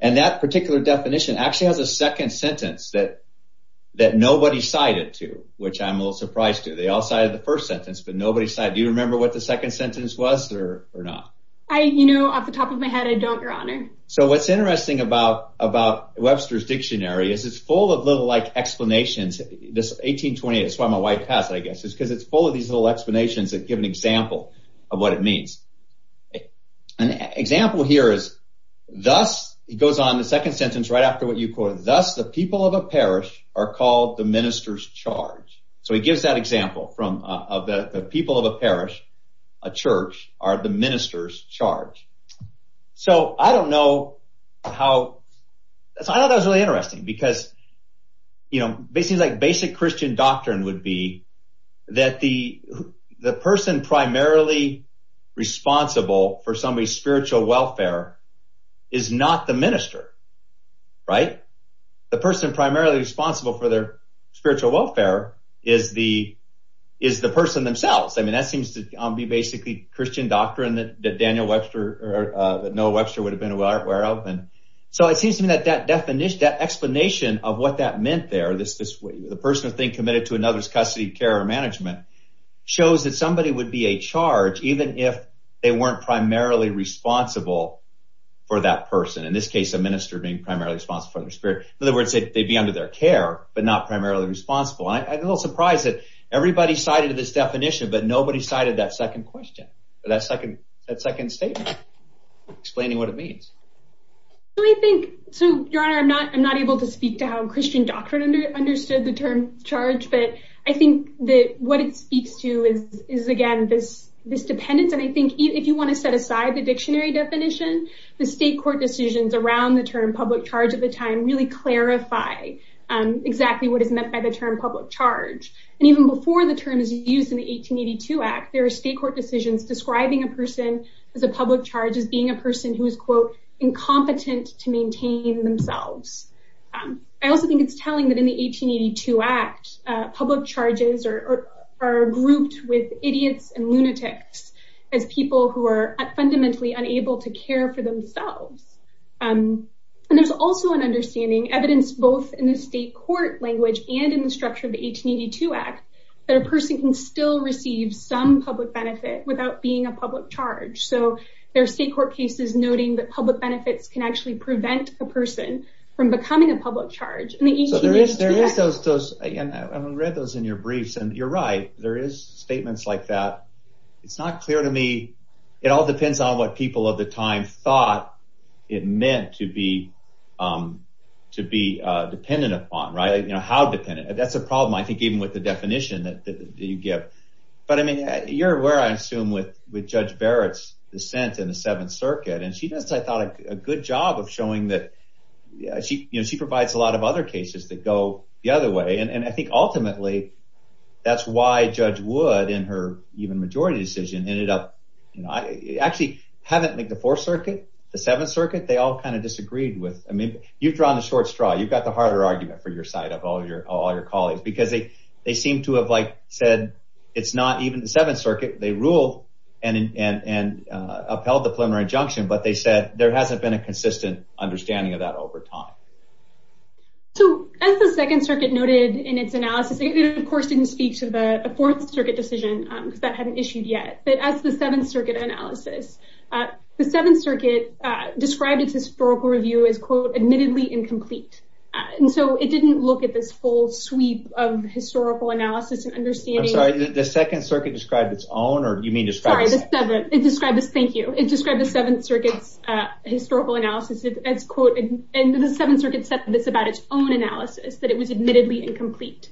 And that particular definition actually has a second sentence that, that nobody cited to, which I'm a little surprised to. They all cited the first sentence, but nobody said, do you remember what the second sentence was there or not? I, you know, off the top of my head, I don't, your honor. So what's interesting about about Webster's dictionary is it's full of little like explanations. This 1828, so I'm a white hat, I guess it's because it's full of these little explanations and give an example of what it means. An example here is dust. It goes on the second sentence right after what you quote. Thus, the people of a parish are called the minister's charge. So it gives that example from, of the people of a parish, a church are the minister's charge. So I don't know how, I thought that was really interesting because, you know, basically like basic Christian doctrine would be that the, the person primarily responsible for somebody's spiritual welfare is not the minister, right? The person primarily responsible for their spiritual welfare is the, is the person themselves. I mean, that seems to be basically Christian doctrine that Daniel Webster, Noah Webster would have been aware of. And so it seems to me that that definition, that explanation of what that meant there, this, this way, the person being committed to another's custody of care or management shows that somebody would be a charge, even if they weren't primarily responsible for that person. In this case, a minister being primarily responsible for their spirit. In other words, they'd be under their care, but not primarily responsible. I'm a little surprised that everybody cited this definition, but nobody cited that second question. That second, that second statement explaining what it means. So I think, so your honor, I'm not, I'm not able to speak to how Christian doctrine understood the term charge, but I think that what it speaks to is, is again, this, this dependence. And I think if you want to set aside the dictionary definition, the state court decisions around the term public charge at the time really clarify exactly what is meant by the term public charge. And even before the terms used in the 1882 act, there are state court decisions, describing a person with a public charge as being a person who was quote, incompetent to maintain themselves. I also think it's telling that in the 1882 act public charges are, are grouped with idiots and lunatics as people who are fundamentally unable to care for themselves. And there's also an understanding evidence, both in the state court language and in the structure of the 1882 act, that a person can still receive some public benefit without being a public charge. So there are state court cases noting that public benefits can actually prevent a person from becoming a public charge. I mean, I read those in your briefs and you're right. There is statements like that. It's not clear to me. It all depends on what people at the time thought it meant to be, to be dependent upon, right. You know how dependent that's a problem. I think even with the definition that you give, but I mean, you're aware, I assume with, with judge Barrett's dissent in the seventh circuit and she does, I thought a good job of showing that she, you know, she provides a lot of other cases that go the other way. And I think ultimately that's why judge would in her even majority decision ended up. I actually haven't made the fourth circuit, the seventh circuit. They all kind of disagreed with, I mean, you've drawn a short straw. You've got the harder argument for your side of all your, all your colleagues, because they, they seem to have like said, it's not even the seventh circuit. They rule and, and, and upheld the preliminary injunction, but they said there hasn't been a consistent understanding of that over time. So as the second circuit noted in its analysis, of course didn't speak to the fourth circuit decision that hadn't issued yet. That's the seventh circuit analysis. The seventh circuit described as historical review is quote, admittedly incomplete. And so it didn't look at this whole sweep of historical analysis and understanding. The second circuit described its own, or do you mean. Thank you. It's described the seventh circuit. Historical analysis is as quoted. And then the seventh circuit said that it's about its own analysis, that it was admittedly incomplete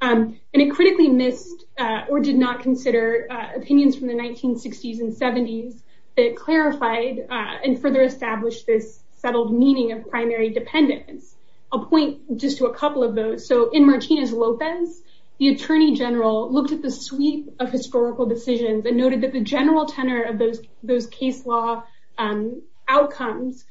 and it critically missed or did not consider opinions from the 1960s and seventies. They clarified and further established this settled meaning of primary dependent. I'll point just to a couple of those. So in Martinez Lopez, the attorney general looked at the suite of historical decisions and noted that the general tenor of those, those case law. Outcomes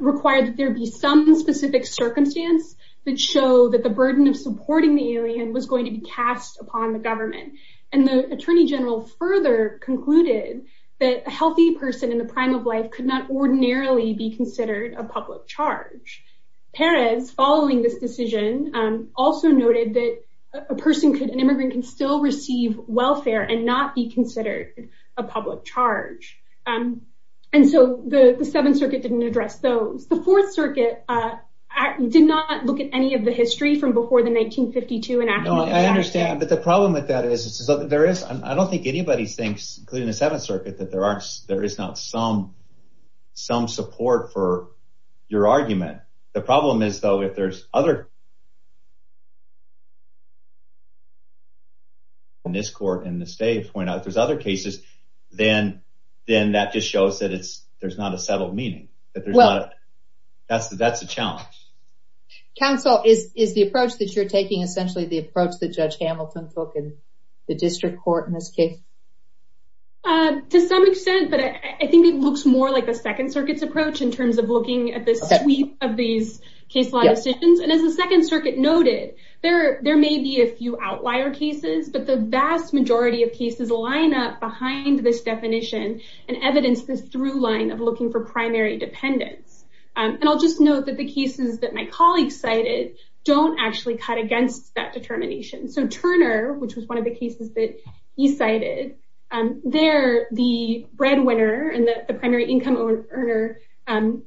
required. There'd be some specific circumstance that show that the burden of supporting the alien was going to be cast upon the government. And the attorney general further concluded that healthy person in the prime of life could not ordinarily be considered a public charge. Parents following this decision. Also noted that a person could, an immigrant can still receive welfare and not be considered a public charge. And so the seventh circuit didn't address. So the fourth circuit. I did not look at any of the history from before the 1952. I understand. But the problem with that is there is, I don't think anybody thinks including the seventh circuit that there are, there is not some, some support for your argument. The problem is though, if there's other. When this court in the state point out, there's other cases. Then then that just shows that it's, there's not a settled meeting. That's the, that's the challenge. Counsel is, is the approach that you're taking? Essentially the approach that judge Hamilton's book is the district court. To some extent, but I think it looks more like a second circuit's approach in terms of looking at the suite of these case law decisions. And as the second circuit noted there, there may be a few outlier cases, but the vast majority of cases line up behind this definition and evidence through line of looking for primary dependence. And I'll just note that the cases that my colleagues cited don't actually cut against that determination. So Turner, which was one of the cases that he cited there, the breadwinner and the primary income earner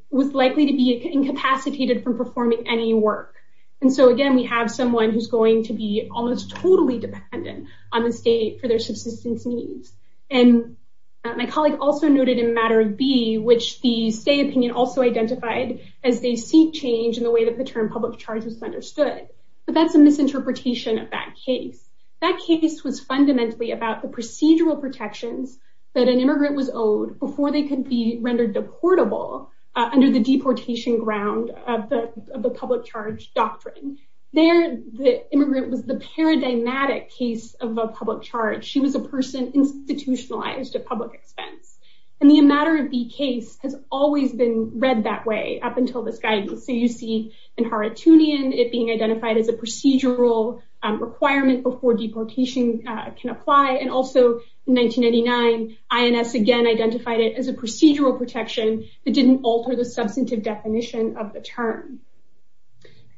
was likely to be incapacitated from performing any work. And so again, we have someone who's going to be almost totally dependent on the state for their subsistence needs. And my colleague also noted in matter of B, which the state opinion also identified as they seek change in the way that the term public charges understood, but that's a misinterpretation of that case. That case was fundamentally about the procedural protections that an immigrant was owed before they could be rendered the portable under the deportation ground of the, of the public charge doctrine. There the immigrant was the paradigmatic case of a public charge. She was a person institutionalized to public expense. And the matter of B case has always been read that way up until this guidance. So you see in Hartoonian, it being identified as a procedural requirement before deportation can apply. And also in 1989, INS again identified it as a procedural protection that didn't alter the substantive definition of the term.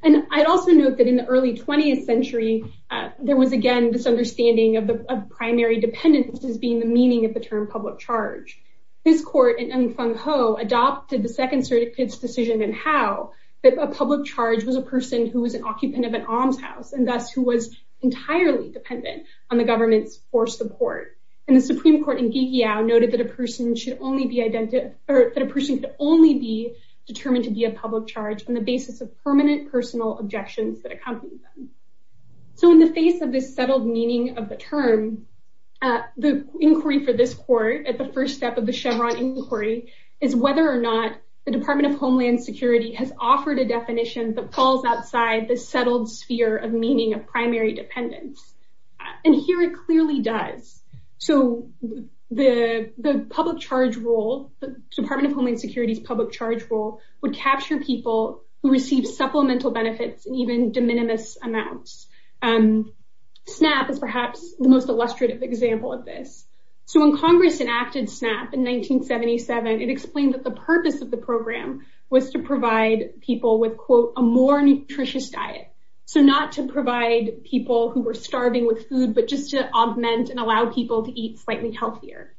And I also know that in the early 20th century, there was again, this understanding of the primary dependence as being the meaning of the term public charge. This court in Fengho adopted the second state's decision and how that a public charge was a person who was an occupant of an almshouse. And that's who was entirely dependent on the government for support. And the Supreme court in GDL noted that a person should only be identified or that a person could only be determined to be a public charge on the basis of permanent personal objections. So in the face of this settled meaning of the term, the inquiry for this court at the first step of the Chevron inquiry is whether or not the department of Homeland security has offered a definition that falls outside the settled sphere of meaning of primary dependence. And here it clearly does. So the, the public charge role department of Homeland security public charge role would capture people who received supplemental benefits, even de minimis amounts. SNAP is perhaps the most illustrative example of this. So when Congress enacted SNAP in 1977, it explained that the purpose of the program was to provide people with quote, a more nutritious diet. So not to provide people who were starving with food, but just to augment and allow people to eat slightly healthier.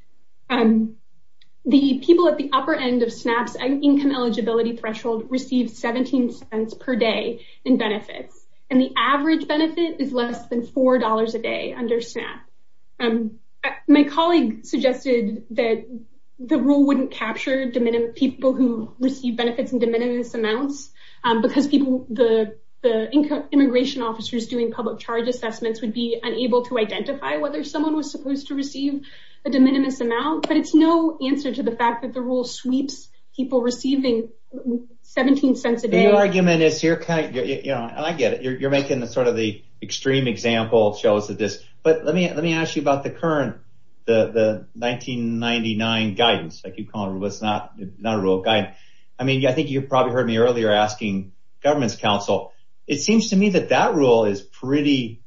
The people at the upper end of SNAP income eligibility threshold received 17 cents per day in benefits. And the average benefit is less than $4 a day under SNAP. My colleague suggested that the rule wouldn't capture de minimis people who receive benefits in de minimis amounts because people, the, the income immigration officers doing public charge assessments would be unable to identify whether someone was supposed to receive a de minimis amount, but it's no answer to the fact that the rule sweeps people receiving 17 cents a day. The argument is you're kind of, you know, I get it. You're, you're making the sort of the extreme example shows that this, but let me, let me ask you about the current, the, the 1999 guidance. I keep calling it. It's not, it's not a rule of guidance. I mean, I think you've probably heard me earlier asking government's council. It seems to me that that rule is pretty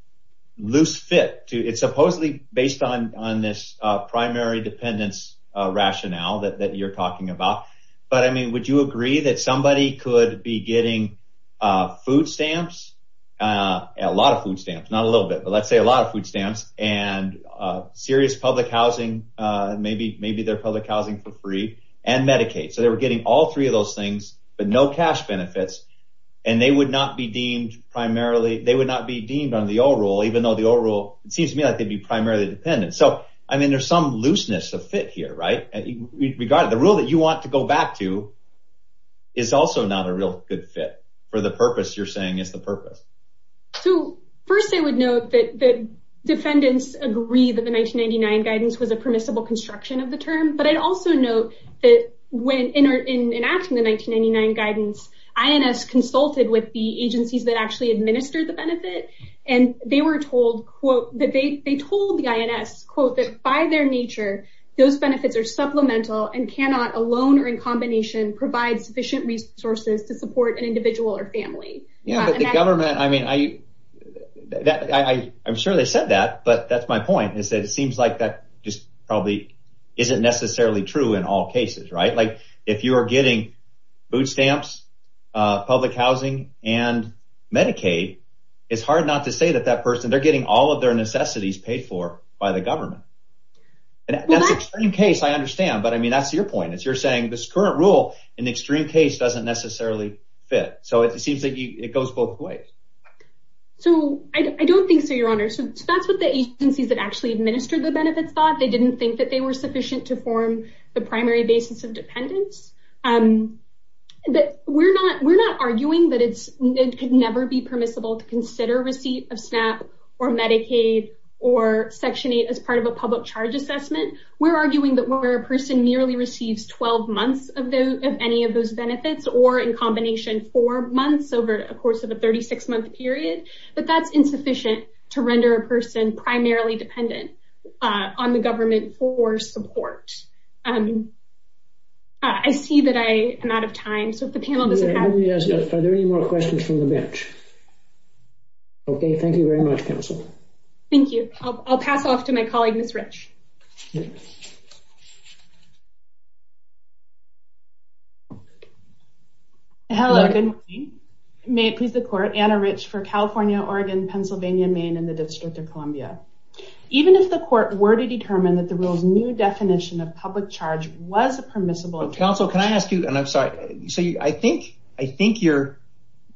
loose fit too. It's supposedly based on, on this primary dependence rationale that, that you're talking about, but I mean, would you agree that somebody could be getting food stamps, a lot of food stamps, not a little bit, but let's say a lot of food stamps. And serious public housing, maybe, maybe their public housing for free and Medicaid. So they were getting all three of those things, but no cash benefits. And they would not be deemed primarily. They would not be deemed on the old rule, even though the old rule, it seems to me like they'd be primarily dependent. So, I mean, there's some looseness of fit here, right? The rule that you want to go back to. It's also not a real good fit for the purpose. You're saying it's the purpose. So first I would note that the defendants agree that the 1999 guidance was a permissible construction of the term, but I'd also note that when in our, in, in asking the 1999 guidance, INS consulted with the agencies that actually administer the benefit. And they were told quote that they, they told the INS quote, that by their nature, those benefits are supplemental and cannot alone or in combination, provide sufficient resources to support an individual or family. Yeah, but the government, I mean, I, I, I'm sure they said that, but that's my point is that it seems like that just probably isn't necessarily true in all cases, right? Like if you are getting bootstamps, public housing and Medicaid, it's hard not to say that that person they're getting all of their In case I understand, but I mean, that's your point. As you're saying this current rule in extreme case doesn't necessarily fit. So it seems like it goes both ways. So I don't think so. Your honor. So that's what the agencies that actually administer the benefits thought. They didn't think that they were sufficient to form the primary basis of dependence. We're not, we're not arguing that it could never be permissible to consider receipt of public charge assessment. We're arguing that we're a person nearly received 12 months of those, of any of those benefits or in combination for months over the course of a 36 month period, but that's insufficient to render a person primarily dependent on the government for support. I see that I am out of time. So if the panel doesn't have any more questions from the bench. Okay. Thank you very much. Thank you. I'll pass off to my colleagues. Hello. May it please the court and a rich for California, Oregon, Pennsylvania, Maine, and the district of Columbia. Even if the court were to determine that the rules, new definition of public charge was permissible. Can I ask you? And I'm sorry. So I think, I think your,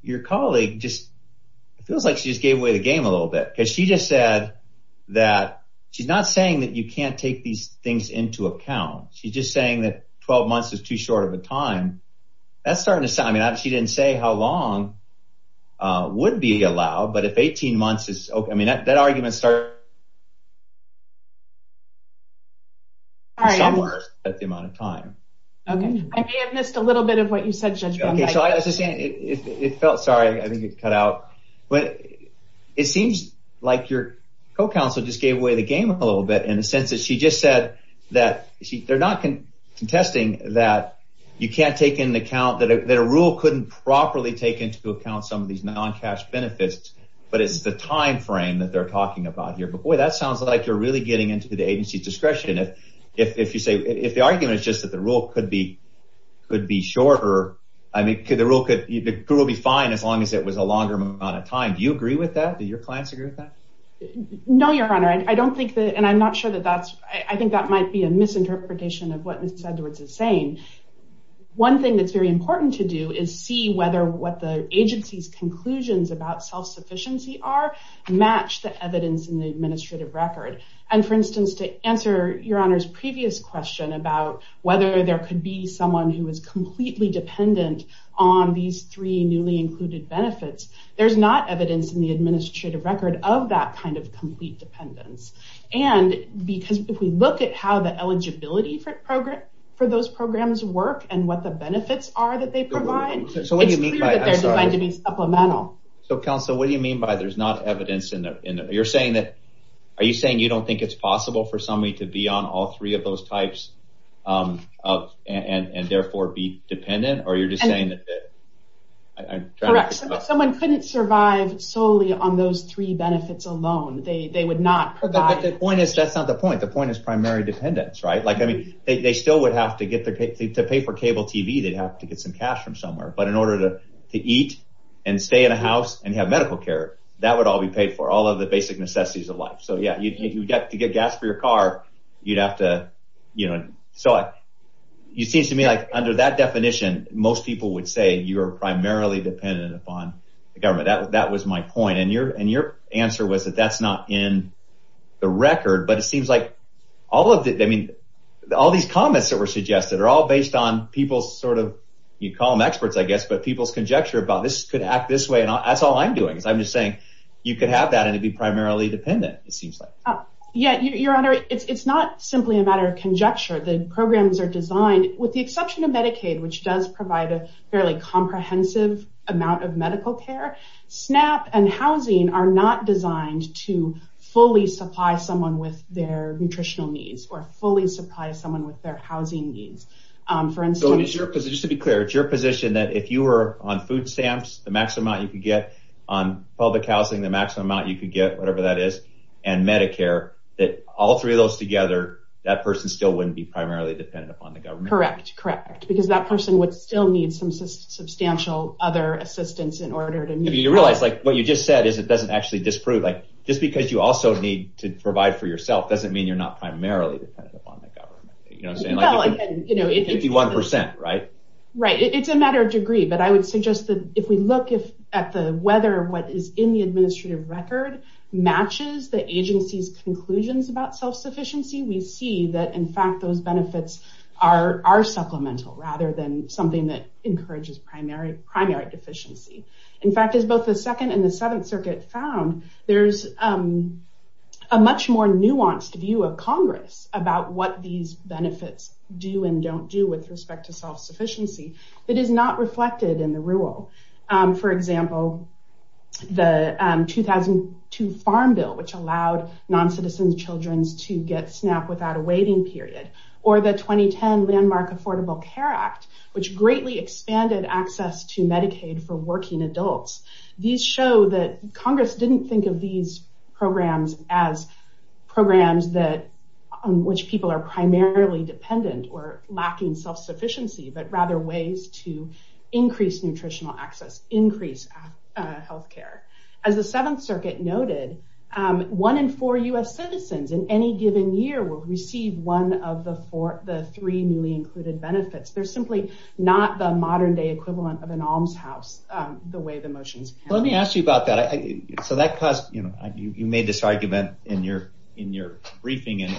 your colleague. It feels like she just gave away the game a little bit. Cause she just said that she's not saying that you can't take these things into account. She's just saying that 12 months is too short of a time. That's starting to sound. I mean, she didn't say how long would be allowed, but if 18 months is okay. I mean, that, that argument started. All right. At the amount of time. Okay. I can't miss a little bit of what you said. It felt sorry. I think it cut out. It seems like your co-counsel just gave away the game a little bit in the sense that she just said that they're not contesting that you can't take into account that a rule couldn't properly take into account some of these non-cash benefits, but it's the timeframe that they're talking about here. But boy, that sounds like you're really getting into the agency discretion. If, if you say, if the argument is just that the rule could be, could be shorter. I mean, could the rule could, it will be fine as long as it was a longer amount of time. Do you agree with that? Do your clients agree with that? No, your Honor. And I don't think that, and I'm not sure that that's, I think that might be a misinterpretation of what Ms. Sedgwick is saying. One thing that's very important to do is see whether what the agency's conclusions about self-sufficiency are match the evidence in the administrative record. And for instance, to answer your Honor's previous question about whether there could be someone who is completely dependent on these three newly included benefits. There's not evidence in the administrative record of that kind of complete dependence. And because if we look at how the eligibility for programs, for those programs work and what the benefits are that they provide. So what do you mean by that? Supplemental. So counsel, what do you mean by there's not evidence in there? You're saying that, are you saying you don't think it's possible for somebody to be on all three of those types and therefore be dependent? Or you're just saying that. Correct. Someone couldn't survive solely on those three benefits alone. They would not provide. That's not the point. The point is primary dependence, right? Like, I mean, they still would have to get to pay for cable TV. They'd have to get some cash from somewhere, but in order to eat and stay in a house and have medical care, that would all be paid for all of the basic necessities of life. So yeah, you'd have to get gas for your car. You'd have to, you know, so. It seems to me like under that definition, most people would say you are primarily dependent upon the government. That was my point. And your answer was that that's not in the record, but it seems like all of the, I mean, all these comments that were suggested are all based on people's sort of, you call them experts, I guess, but people's conjecture about this could act this way. And that's all I'm doing. I'm just saying you could have that and it'd be primarily dependent. Yeah. Your honor. It's not simply a matter of conjecture. The programs are designed with the exception of Medicaid, which does provide a fairly comprehensive amount of medical care, SNAP and housing are not designed to fully supply someone with their nutritional needs or fully supply someone with their housing needs. For instance, just to be clear, it's your position that if you were on food stamps, the maximum amount you could get on public housing, the maximum amount you could get, whatever that is, and Medicare, that all three of those together, that person still wouldn't be primarily dependent upon the government. Correct. Correct. Because that person would still need some substantial other assistance in order to be realized. Like what you just said is it doesn't actually disprove, like just because you also need to provide for yourself, doesn't mean you're not primarily dependent upon the government. You know what I'm saying? It could be 1%, right? Right. It's a matter of degree, but I would suggest that if we look at the weather, what is in the administrative record matches the agency's conclusions about self-sufficiency, we see that in fact, those benefits are supplemental rather than something that encourages primary deficiency. In fact, it's both the second and the seventh circuit found there's a much more nuanced view of Congress about what these benefits do and don't do with respect to self-sufficiency that is not reflected in the rule. For example, the 2002 Farm Bill, which allowed non-citizen children to get SNAP without a waiting period or the 2010 Landmark Affordable Care Act, which greatly expanded access to Medicaid for working adults. These show that Congress didn't think of these programs as programs that, which people are primarily dependent or lacking self-sufficiency, but rather ways to increase nutritional access, increase health care. As the seventh circuit noted, one in four US citizens in any given year will receive one of the four, the three newly included benefits. They're simply not the modern day equivalent of an almshouse the way the motions. Let me ask you about that. So that caused, you know, in your briefing and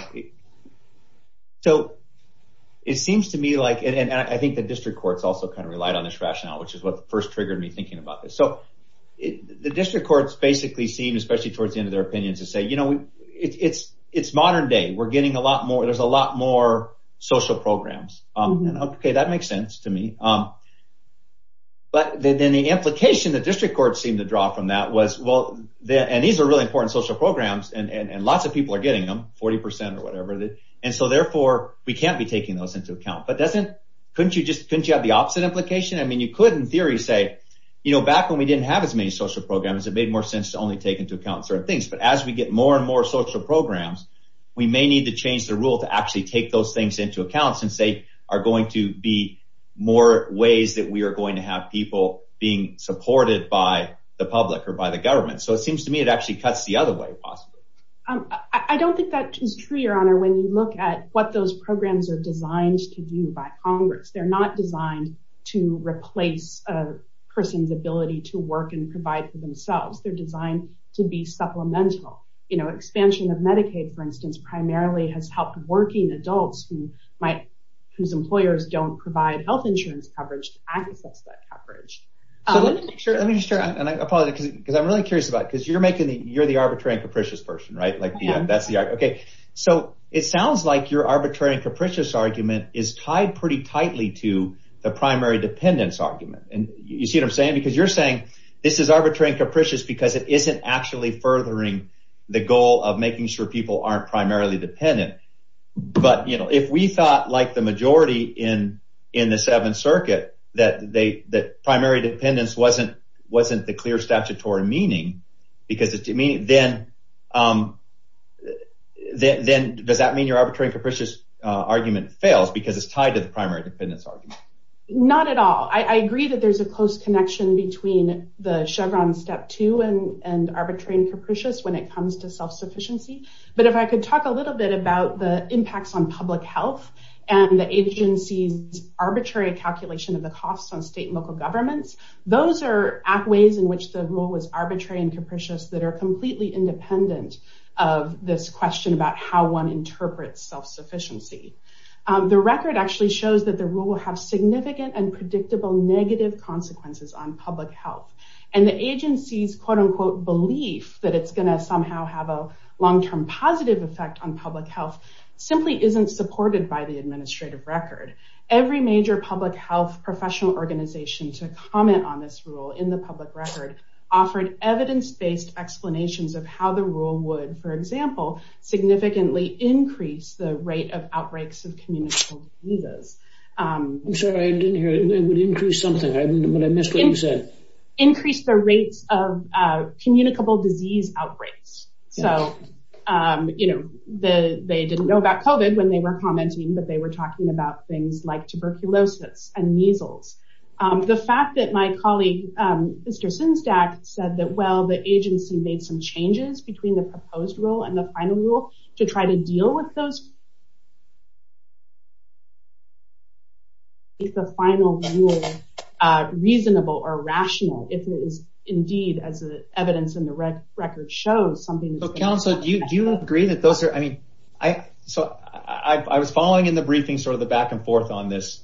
so it seems to me like, and I think the district courts also kind of relied on this rationale, which is what first triggered me thinking about this. So the district courts basically seem, especially towards the end of their opinions to say, you know, it's, it's modern day. We're getting a lot more, there's a lot more social programs. Okay. That makes sense to me. But then the implication that district courts seem to draw from that was, well, and these are really important social programs and, and lots of people are getting them 40% or whatever. And so therefore we can't be taking those into account, but that's it. Couldn't you just, couldn't you have the opposite implication? I mean, you couldn't theory say, you know, back when we didn't have as many social programs, it made more sense to only take into account certain things. But as we get more and more social programs, we may need to change the rule to actually take those things into account since they are going to be more ways that we are going to have people being supported by the public or by the government. So it seems to me it actually cuts the other way. I don't think that is true, your honor. When you look at what those programs are designed to do by Congress, they're not designed to replace a person's ability to work and provide for themselves. They're designed to be supplemental, you know, expansion of Medicaid, for instance, primarily has helped working adults who might, whose employers don't provide health insurance coverage to access that Sure. Let me share. And I apologize because I'm really curious about it. Cause you're making the, you're the arbitrary and capricious person, right? Like that's the, okay. So it sounds like your arbitrary and capricious argument is tied pretty tightly to the primary dependence argument. And you see what I'm saying? Because you're saying this is arbitrary and capricious because it isn't actually furthering the goal of making sure people aren't primarily dependent. But you know, if we thought like the majority in the seventh circuit that they, that primary dependence wasn't, wasn't the clear statutory meaning, because it's to me, then, then does that mean your arbitrary and capricious argument fails because it's tied to the primary dependence argument? Not at all. I agree that there's a close connection between the Chevron step two and, and arbitrary and capricious when it comes to self-sufficiency. But if I could talk a little bit about the impacts on public health and the local governments, those are ways in which the rule was arbitrary and capricious that are completely independent of this question about how one interprets self-sufficiency. The record actually shows that the rule will have significant and predictable negative consequences on public health. And the agency's quote unquote belief that it's going to somehow have a long-term positive effect on public health simply isn't supported by the administrative record. Every major public health professional organization to comment on this rule in the public record offered evidence-based explanations of how the rule would, for example, significantly increase the rate of outbreaks of communicable diseases. I'm sorry, I didn't hear it. It would increase something. I missed what you said. Increase the rate of communicable disease outbreaks. So, you know, they didn't know about COVID when they were commenting, but they were talking about things like tuberculosis and measles. The fact that my colleague, Mr. Simstack said that, well, the agency made some changes between the proposed rule and the final rule to try to deal with those. Is the final rule reasonable or rational if it was indeed, as the evidence in the record shows something. So do you agree that those are, I mean, I, I was following in the briefing sort of the back and forth on this.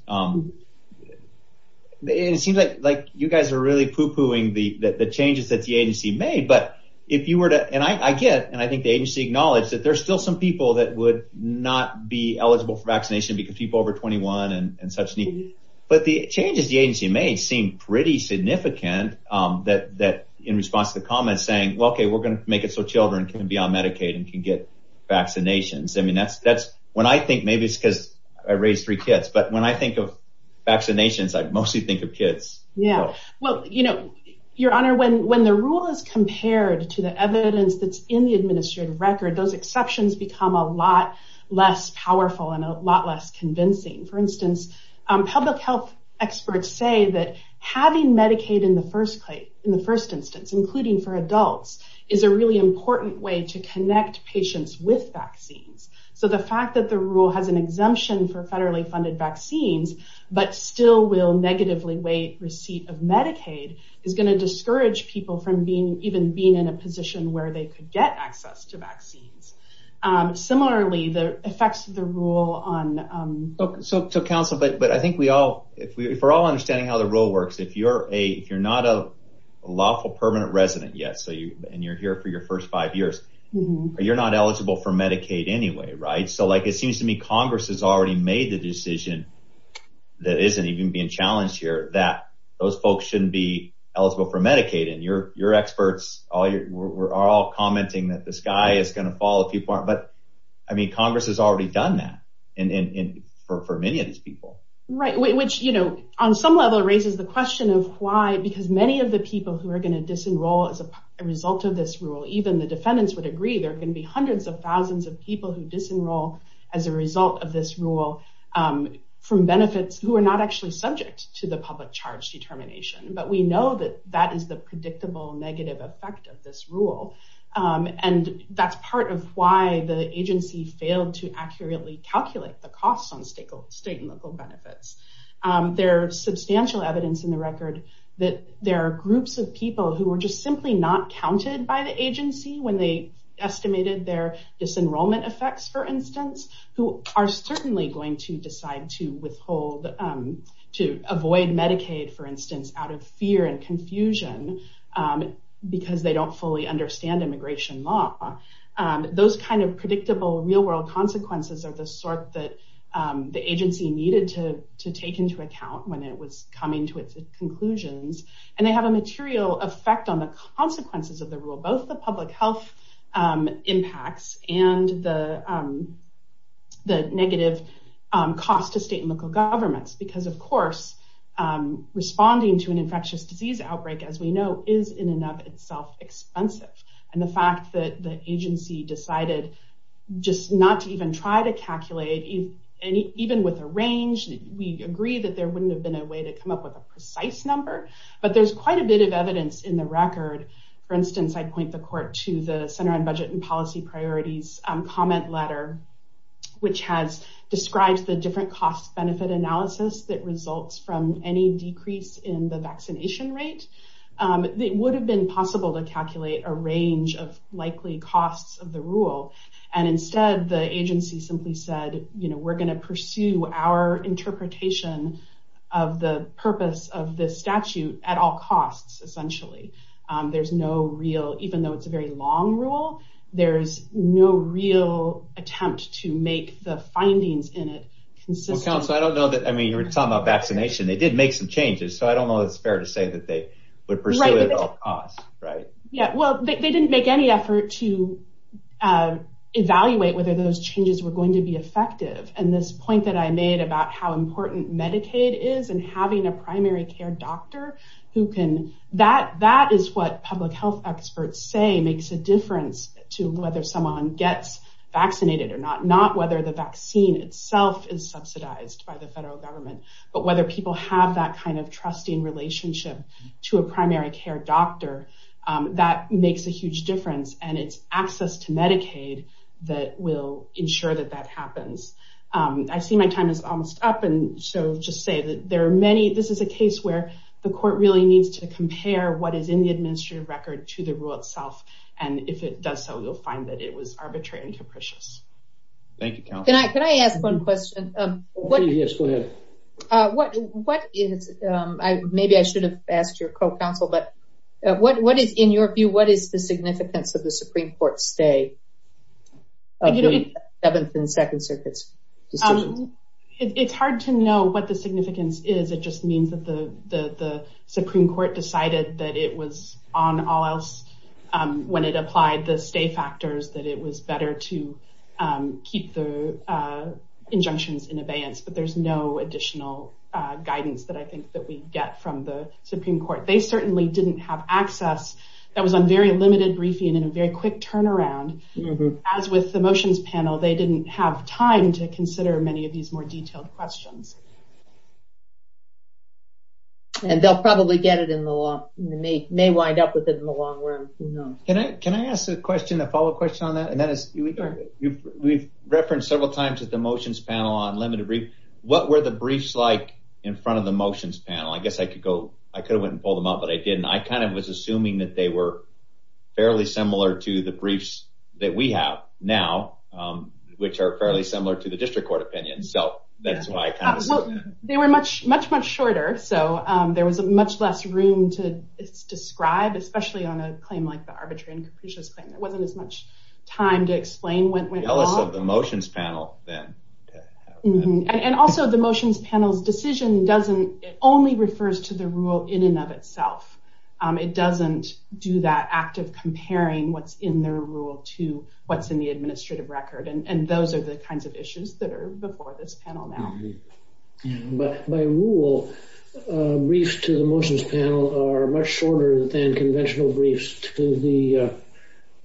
It seems like you guys are really pooh-poohing the changes that the agency made, but if you were to, and I get, and I think the agency acknowledged that there's still some people that would not be eligible for vaccination because people over 21 and such need, but the changes the agency made seem pretty significant that, that in response to the comments saying, well, okay, we're going to make it so children can be on Medicaid and can get vaccinations. I mean, that's, that's when I think, maybe it's because I raised three kids, but when I think of vaccinations, I mostly think of kids. Well, you know, your honor, when, when the rule is compared to the evidence that's in the administrative record, those exceptions become a lot less powerful and a lot less convincing. For instance, public health experts say that having Medicaid in the first place in the first instance, including for adults is a really important way to connect patients with vaccines. So the fact that the rule has an exemption for federally funded vaccines, but still will negatively weight receipt of Medicaid is going to discourage people from being even being in a position where they could get access to vaccines. Similarly, the effects of the rule on. So council, but, but I think we all, if we, if we're all understanding how the rule works, if you're a, if you're not a lawful permanent resident yet, so you, and you're here for your first five years, but you're not eligible for Medicaid anyway. Right? So like it seems to me, Congress has already made the decision that isn't even being challenged here that those folks shouldn't be eligible for Medicaid. And you're, you're experts. All your we're all commenting that the sky is going to fall as people are. But I mean, Congress has already done that and for many of these people, Right. Which, you know, on some level raises the question of why, because many of the people who are going to disenroll as a result of this rule, Even the defendants would agree there can be hundreds of thousands of people who disenroll as a result of this rule from benefits who are not actually subject to the public charge determination, but we know that that is the predictable negative effect of this rule. And that's part of why the agency failed to accurately calculate the costs on stakeholders, state and local benefits. There's substantial evidence in the record that there are groups of people who were just simply not counted by the agency when they estimated their disenrollment effects, for instance, who are certainly going to decide to withhold to avoid Medicaid, for instance, out of fear and confusion because they don't fully understand immigration law. Those kinds of predictable real world consequences are the sort that the agency needed to, to take into account when it was coming to its conclusions. And they have a material effect on the consequences of the rule, both the public health impacts and the, the negative cost to state and local governments, because of course, responding to an infectious disease outbreak, as we know, is in and of itself expensive. And the fact that the agency decided just not to even try to calculate any, even with a range, we agreed that there wouldn't have been a way to come up with a precise number, but there's quite a bit of evidence in the record. For instance, I'd point the court to the center on budget and policy priorities comment letter, which has described the different costs benefit analysis that results from any decrease in the vaccination rate. It would have been possible to calculate a range of likely costs of the rule. And instead the agency simply said, you know, this is our interpretation of the purpose of the statute at all costs. Essentially. There's no real, even though it's a very long rule, there's no real attempt to make the findings in it. I don't know that. I mean, you were talking about vaccination. They did make some changes, so I don't know if it's fair to say that they would pursue it. Right. Yeah. Well, they didn't make any effort to evaluate whether those changes were going to be effective. And this point that I made about how important Medicaid is and having a primary care doctor who can, that, that is what public health experts say makes a difference to whether someone gets vaccinated or not, not whether the vaccine itself is subsidized by the federal government, but whether people have that kind of trusting relationship to a primary care doctor that makes a huge difference. And it's access to Medicaid that will ensure that that happens. I see my time is almost up. And so just say that there are many, this is a case where the court really needs to compare what is in the administrative record to the rule itself. And if it does, so we'll find that it was arbitrary and capricious. Thank you. Can I, can I ask one question? What, what is I, maybe I should have asked your co-counsel, but what, what did, in your view, what is the significance of the Supreme court say seventh and second sentence? It's hard to know what the significance is. It just means that the, the, the Supreme court decided that it was on all else when it applied the state factors, that it was better to keep the injunctions in abeyance, but there's no additional guidance that I think that we get from the Supreme court. They certainly didn't have access. That was on very limited briefing and a very quick turnaround. As with the motions panel, they didn't have time to consider many of these more detailed questions. And they'll probably get it in the law and then they may wind up with it in the long run. Can I, can I ask a question, a follow up question on that? And that is, we referenced several times at the motions panel on limited brief, what were the briefs like in front of the motions panel? I guess I could go, I could have went and pulled them up, but I didn't. I kind of was assuming that they were fairly similar to the briefs that we have now, which are fairly similar to the district court opinion. So that's why they were much, much, much shorter. So there was a much less room to describe, especially on a claim like the arbitrary and capricious claim. It wasn't as much time to explain what went on the motions panel then. And also the motions panel decision doesn't, it only refers to the rule in and of itself. It doesn't do that active comparing what's in their rule to what's in the administrative record. And those are the kinds of issues that are before this panel now. But by rule, briefs to the motions panel are much shorter than conventional briefs to the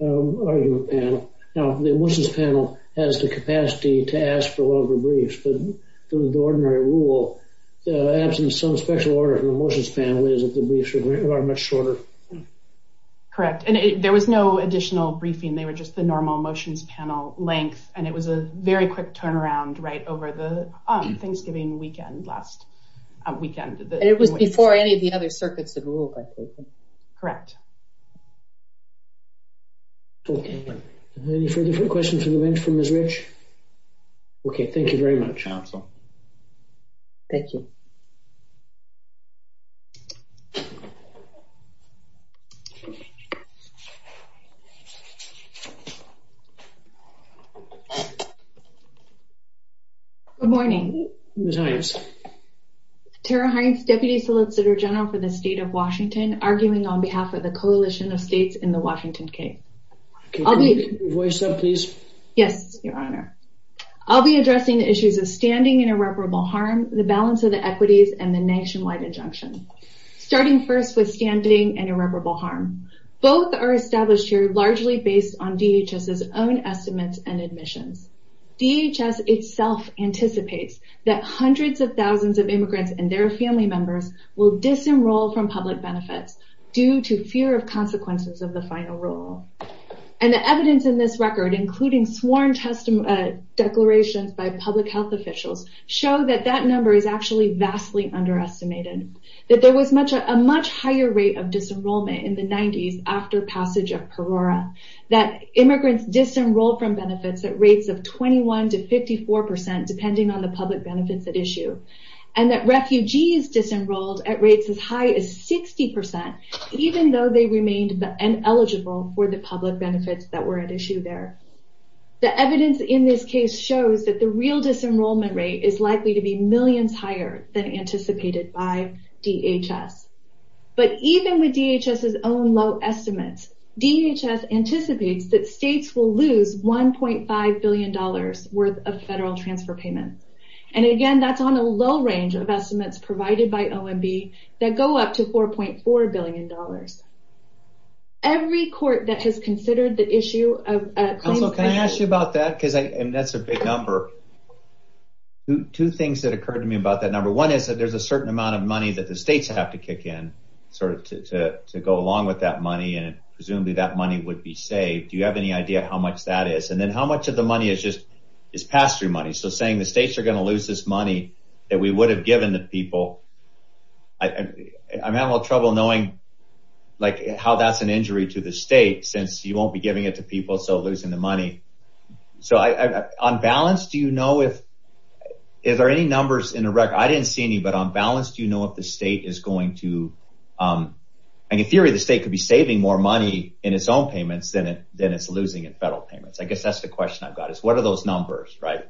argument panel. Now the motions panel has the capacity to ask for longer briefs, the ordinary rule, asking some special order from the motions panel is that the briefs are much shorter. Correct. And there was no additional briefing. They were just the normal motions panel length. And it was a very quick turnaround right over the Thanksgiving weekend, last weekend. It was before any of the other circuits that rule. Correct. Okay. Any further questions from the bench from Ms. Rich? Okay. Thank you very much. Thank you. Good morning. Tara Heinz, deputy solicitor general for the state of Washington, arguing on behalf of the coalition of states in the Washington case. Yes, Your Honor. I'll be addressing the issues of standing and irreparable harm, the balance of the equities and the nationwide injunction. Starting first with standing and irreparable harm. Both are established here, largely based on DHS's own estimates and admission. DHS itself anticipates that hundreds of thousands of immigrants and their family members will disenroll from public benefits due to fear of consequences of the final rule. And the evidence in this record, including sworn testimony declarations by public health officials, show that that number is actually vastly underestimated. That there was a much higher rate of disenrollment in the 90s after passage of Perora. That immigrants disenrolled from benefits at rates of 21 to 54%, depending on the public benefits at issue. And that refugees disenrolled at rates as high as 60%, even though they remained eligible for the public benefits that were at issue there. The evidence in this case shows that the real disenrollment rate is likely to be millions higher than anticipated by DHS. But even with DHS's own low estimates, DHS anticipates that states will lose $1.5 billion worth of federal transfer payments. And again, that's on a low range of estimates provided by OMB that go up to $4.4 billion. Every court that has considered the issue. Can I ask you about that? Cause I, and that's a big number. Two things that occurred to me about that number. One is that there's a certain amount of money that the states have to kick in sort of to, to, to go along with that money. And presumably that money would be saved. Do you have any idea how much that is? And then how much of the money is just past your money? So saying the states are going to lose this money that we would have given the people. I'm having a little trouble knowing like how that's an injury to the state since you won't be giving it to people. So losing the money. So on balance, do you know if there are any numbers in Iraq? I didn't see any, but on balance, do you know what the state is going to and in theory, the state could be saving more money in its own payments than it, than it's losing in federal payments. I guess that's the question I've got is what are those numbers, right?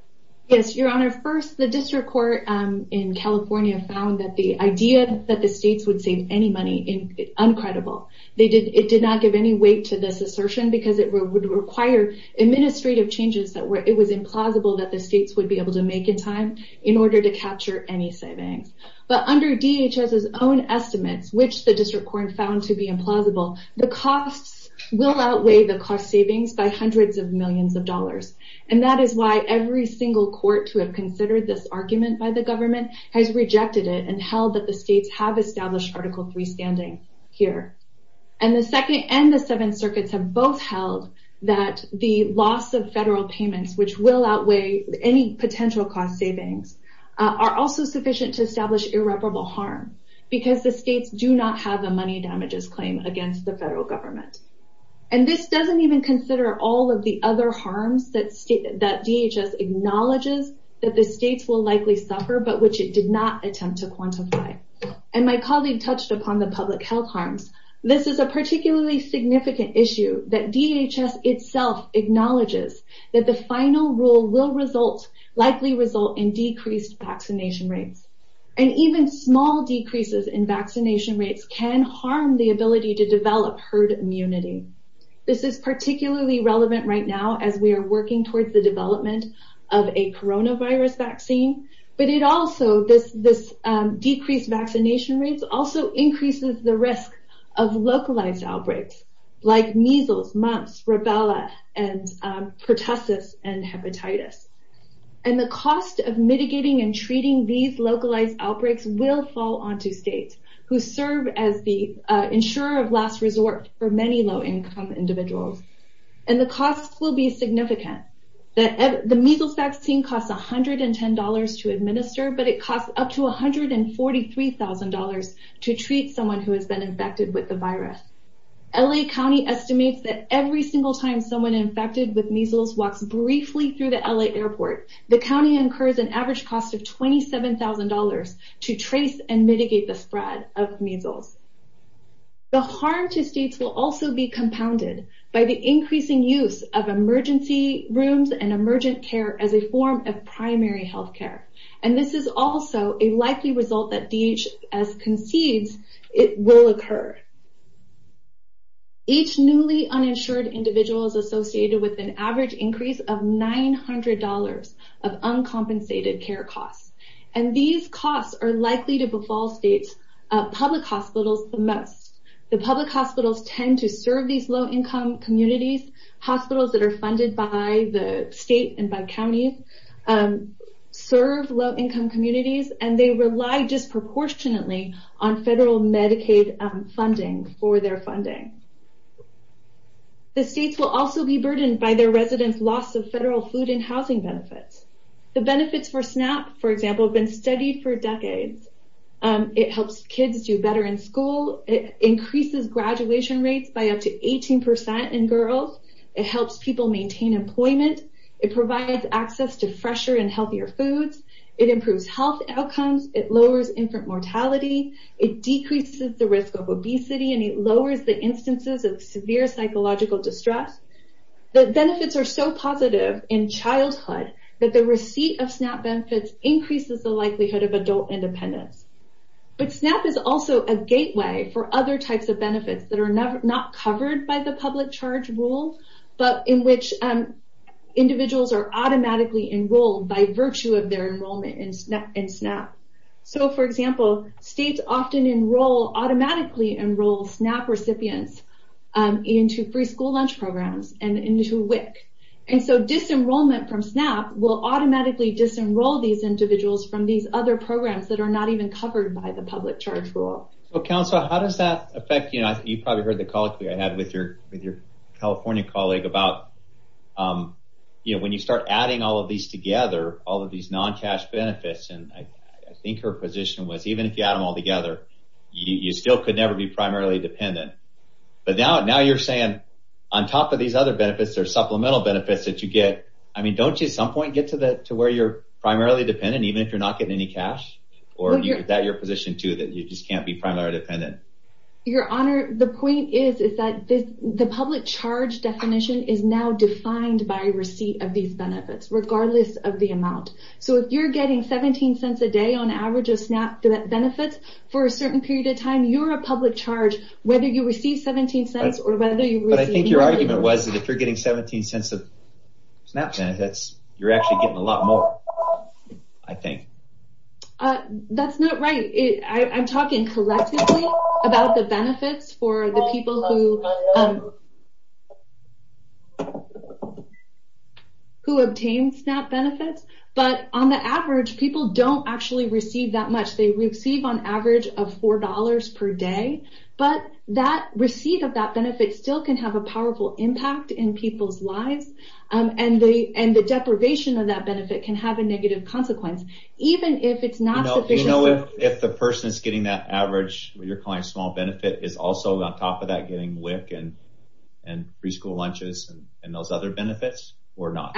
Your honor. At first, the district court in California found that the idea that the states would save any money in uncredible. They did. It did not give any weight to this assertion because it would require administrative changes that were, it was implausible that the states would be able to make in time in order to capture any savings. But under DHS, his own estimates, which the district court found to be implausible, the costs will outweigh the cost savings by hundreds of millions of dollars. And that is why every single court to have considered this argument by the government has rejected it and held that the states have established article three standing here. And the second and the seventh circuits have both held that the loss of federal payments, which will outweigh any potential cost savings are also sufficient to establish irreparable harm because the states do not have a money damages claim against the federal government. And this doesn't even consider all of the other harms that state, that DHS acknowledges that the state will likely suffer, but which it did not attempt to quantify. And my colleague touched upon the public health harms. This is a particularly significant issue that DHS itself acknowledges that the final rule will result likely result in decreased vaccination rates and even small decreases in vaccination rates can harm the ability to transmitting. This is particularly relevant right now, as we are working towards the development of a Corona virus vaccine, but it also this, this decreased vaccination rates also increases the risk of localized outbreaks. Like measles months for Bella and pertussis and hepatitis. And the cost of mitigating and treating these localized outbreaks will fall onto states who serve as the insurer of last resort for many low income individuals. And the costs will be significant that the measles vaccine costs $110 to administer, but it costs up to $143,000 to treat someone who has been infected with the virus. LA County estimates that every single time someone infected with measles walked briefly through the LA airport, the county incurs an average cost of $27,000 to trace and mitigate the spread of measles. The harm to states will also be compounded by the increasing use of emergency rooms and emergent care as a form of primary healthcare. And this is also a likely result that DHS concedes it will occur. Each newly uninsured individual is associated with an average increase of $900 of uncompensated care costs. And these costs are likely to befall state public hospitals the most. The public hospitals tend to serve these low income communities. Hospitals that are funded by the state and by counties serve low income communities, and they rely disproportionately on federal Medicaid funding for their funding. The states will also be burdened by their residents loss of federal food and beverage benefits. The benefits for SNAP, for example, have been studied for decades. It helps kids do better in school. It increases graduation rates by up to 18% in girls. It helps people maintain employment. It provides access to fresher and healthier foods. It improves health outcomes. It lowers infant mortality. It decreases the risk of obesity, and it lowers the instances of severe psychological distress. The benefits are so positive in childhood that the receipt of SNAP benefits increases the likelihood of adult independence. But SNAP is also a gateway for other types of benefits that are not covered by the public charge rule, but in which individuals are automatically enrolled by virtue of their enrollment in SNAP. So, for example, states often automatically enroll SNAP recipients into free school lunch programs and into WIC. And so disenrollment from SNAP will automatically disenroll these individuals from these other programs that are not even covered by the public charge rule. Well, Counselor, how does that affect you? You probably heard the call I had with your California colleague about, you know, when you start adding all of these together, all of these non-cash benefits, and I think her position was, even if you add them all together, you still could never be primarily dependent. But now you're saying, on top of these other benefits, there's supplemental benefits that you get. I mean, don't you at some point get to where you're primarily dependent, even if you're not getting any cash? Or is that your position too, that you just can't be primarily dependent? Your Honor, the point is, is that the public charge definition is now defined by receipt of these benefits, regardless of the amount. So if you're getting 17 cents a day on average of SNAP benefits for a public charge, whether you receive 17 cents or whether you receive. But I think your argument was, if you're getting 17 cents of SNAP benefits, you're actually getting a lot more, I think. That's not right. I'm talking collectively about the benefits for the people who, who obtain SNAP benefits. But on the average, people don't actually receive that much. They receive on average of $4 per day. But that receipt of that benefit still can have a powerful impact in people's lives. And the deprivation of that benefit can have a negative consequence, even if it's not sufficient. You know if the person is getting that average, what you're calling small benefit, is also on top of that getting WIC and preschool lunches and those other benefits or not?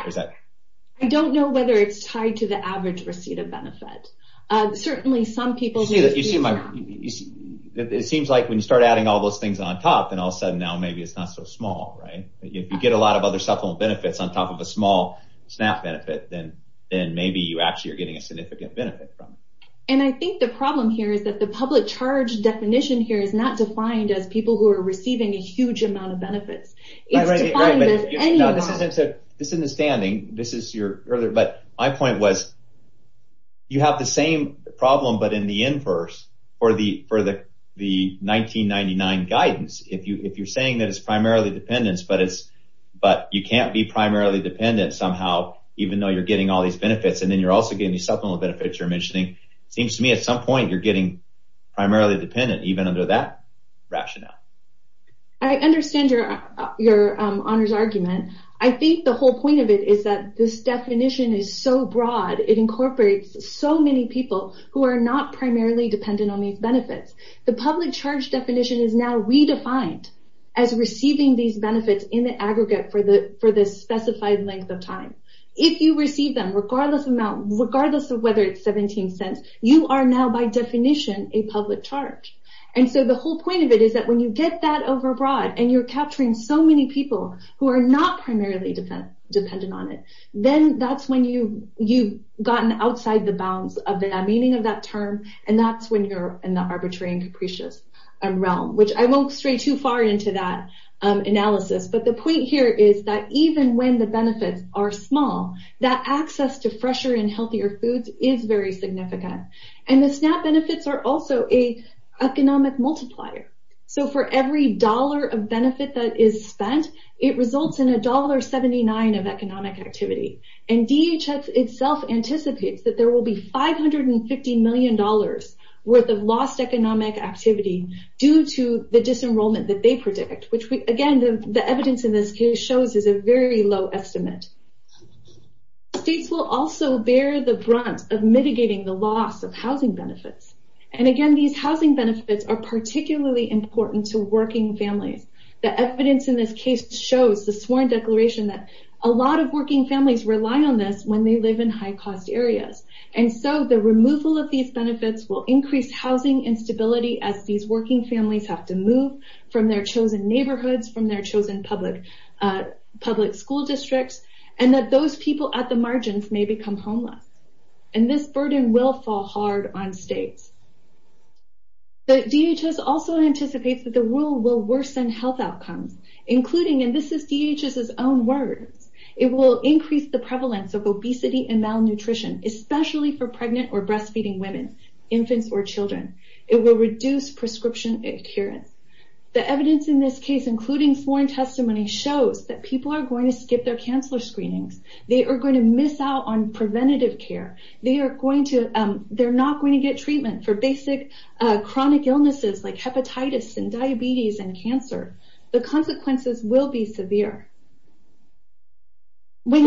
I don't know whether it's tied to the average receipt of benefits. Certainly some people do. It seems like when you start adding all those things on top and all of a sudden now maybe it's not so small, right? If you get a lot of other supplemental benefits on top of a small SNAP benefit, then maybe you actually are getting a significant benefit from it. And I think the problem here is that the public charge definition here is not defined as people who are receiving a huge amount of benefits. It's defined as anyone. It's a misunderstanding. My point was you have the same problem but in the inverse for the 1999 guidance. If you're saying that it's primarily dependence but you can't be primarily dependent somehow even though you're getting all these benefits and then you're also getting the supplemental benefits you're mentioning, it seems to me at some point you're getting primarily dependent, even under that rationale. I understand your honors argument. I think the whole point of it is that this definition is so broad. It incorporates so many people who are not primarily dependent on these benefits. The public charge definition is now redefined as receiving these benefits in the aggregate for the specified length of time. If you receive them, regardless of whether it's 17 cents, you are now by definition a public charge. And so the whole point of it is that when you get that overbroad and you're not primarily dependent on it, then that's when you've gotten outside the bounds of the meaning of that term and that's when you're in the arbitrary and capricious realm, which I won't stray too far into that analysis. But the point here is that even when the benefits are small, that access to fresher and healthier foods is very significant. And the SNAP benefits are also an economic multiplier. So for every dollar of benefit that is spent, it results in $1.79 of economic activity. And DHS itself anticipates that there will be $550 million worth of lost economic activity due to the disenrollment that they predict, which, again, the evidence in this case shows is a very low estimate. States will also bear the brunt of mitigating the loss of housing benefits. And, again, these housing benefits are particularly important to working families. The evidence in this case shows the sworn declaration that a lot of working families rely on this when they live in high-cost areas. And so the removal of these benefits will increase housing instability as these working families have to move from their chosen neighborhoods, from their chosen public school districts, and that those people at the margins may become homeless. And this burden will fall hard on states. DHS also anticipates that the rule will worsen health outcomes, including, and this is DHS's own word, it will increase the prevalence of obesity and malnutrition, especially for pregnant or breastfeeding women, infants, or children. It will reduce prescription adherence. The evidence in this case, including sworn testimony, shows that people are going to skip their cancer screenings. They are going to miss out on preventative care. They are going to, they're not going to get treatment for basic chronic illnesses like hepatitis and diabetes and cancer. The consequences will be severe. This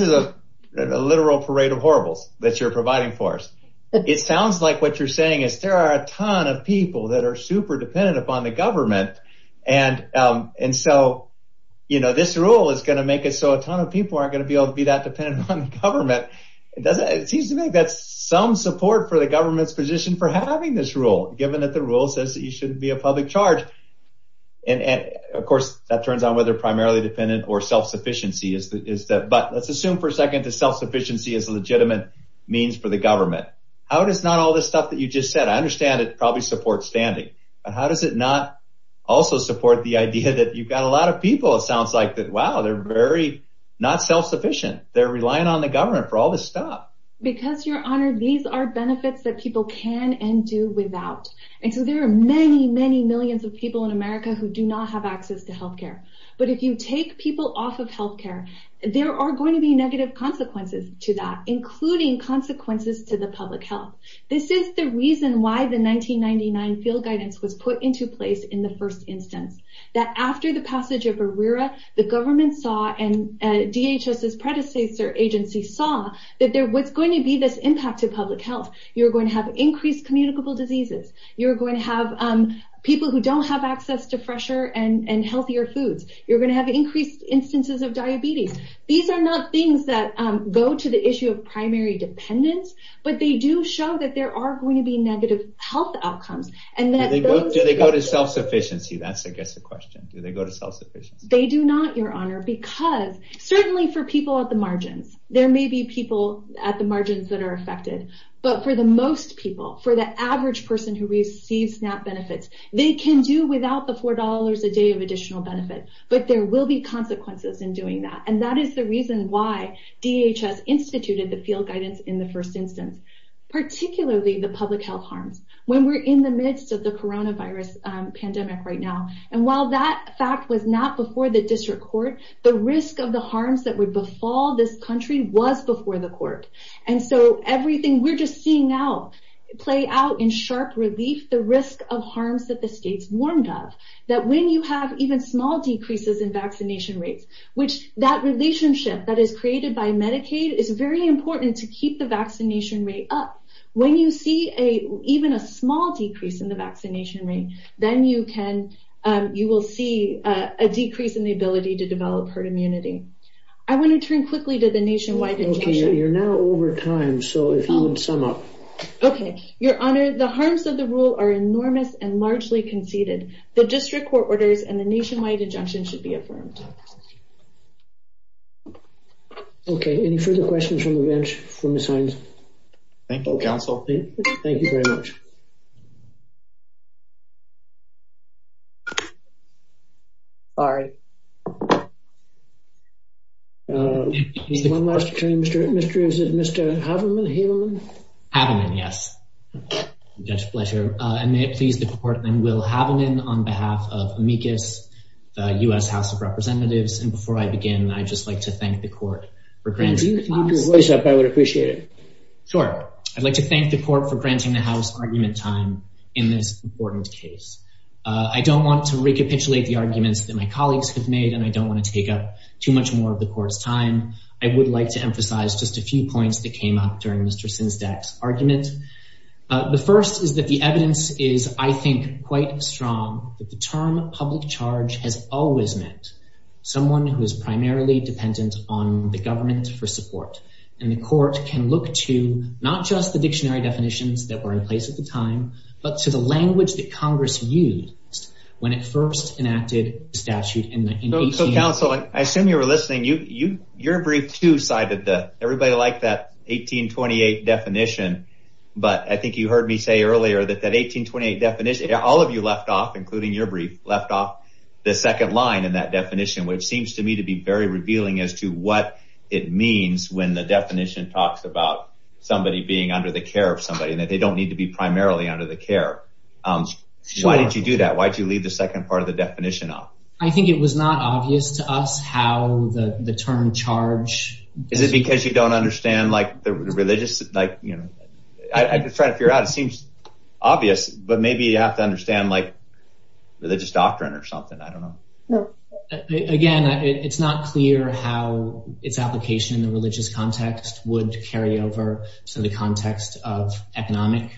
is a literal parade of horribles that you're providing for us. It sounds like what you're saying is there are a ton of people that are super dependent upon the government. And so, you know, this rule is going to make it so a ton of people aren't going to be able to be that dependent on the government. It seems to me that's some support for the government's position for having this rule, given that the rule says that you shouldn't be a public charge. And of course, that turns on whether primarily dependent or self-sufficiency, but let's assume for a second that self-sufficiency is a legitimate means for the government. How does not all this stuff that you just said, I understand it's probably support standing, but how does it not also support the idea that you've got a lot of people? It sounds like that. Wow. They're very not self-sufficient. They're relying on the government for all this stuff. Because your honor, these are benefits that people can and do without. And so there are many, many millions of people in America who do not have access to healthcare. But if you take people off of healthcare, there are going to be negative consequences to that, including consequences to the public health. This is the reason why the 1999 field guidance was put into place in the first instance. That after the passage of ARERA, the government saw and DHS's predecessor agency saw that there was going to be this impact to public health. You're going to have increased communicable diseases. You're going to have people who don't have access to fresher and healthier foods. You're going to have increased instances of diabetes. These are not things that go to the issue of primary dependence, but they do show that there are going to be negative health outcomes. Do they go to self-sufficiency? That's I guess the question. Do they go to self-sufficiency? They do not, your honor, because certainly for people at the margins, there may be people at the margins that are affected, but for the most people, for the average person who receives SNAP benefits, they can do without the $4 a day of additional benefits, but there will be consequences in doing that. And that is the reason why DHS instituted the field guidance in the first instance, particularly the public health harms when we're in the midst of the coronavirus pandemic right now. And while that fact was not before the district court, the risk of the harms that would befall this country was before the court. And so everything we're just seeing now play out in sharp relief, the risk of harms that the states warned of, that when you have even small decreases in vaccination rates, which that relationship that is created by Medicaid, it's very important to keep the vaccination rate up. When you see a, even a small decrease in the vaccination rate, then you can, you will see a decrease in the ability to develop herd immunity. I want to turn quickly to the nationwide. You're now over time. So if you would sum up. Okay. Your honor, the harms of the rule are enormous and largely conceded the district court has ordered and the nationwide injunction should be affirmed. Okay. Any further questions from the bench? Thank you. Thank you very much. All right. One last change. Mr. Adam. Yes. Yes. Pleasure. I may please the court. Then we'll have them in on behalf of the U.S. House of Representatives. And before I begin, I just like to thank the court. I would appreciate it. Sure. I'd like to thank the court for granting the house argument time in this important case. I don't want to recapitulate the arguments that my colleagues have made, and I don't want to take up too much more of the course time. I would like to emphasize just a few points that came up during Mr. Since that argument, the first is that the evidence is, I think quite strong, but the term public charge has always meant someone who is primarily dependent on the government for support. And the court can look to not just the dictionary definitions that were in place at the time, but to the language that Congress used when it first enacted statute. I assume you were listening. You, you, your brief two sided that everybody liked that 1828 definition. But I think you heard me say earlier that that 1828 definition, all of you left off, including your brief left off the second line in that definition, which seems to me to be very revealing as to what it means. When the definition talks about somebody being under the care of somebody that they don't need to be primarily under the care. So why did you do that? Why'd you leave the second part of the definition up? I think it was not obvious to us how the term charge. Is it because you don't understand like the religious, like I could try to figure out, it seems obvious, but maybe you have to understand like religious doctrine or something. I don't know. Again, it's not clear how it's application in the religious context would carry over. So the context of economic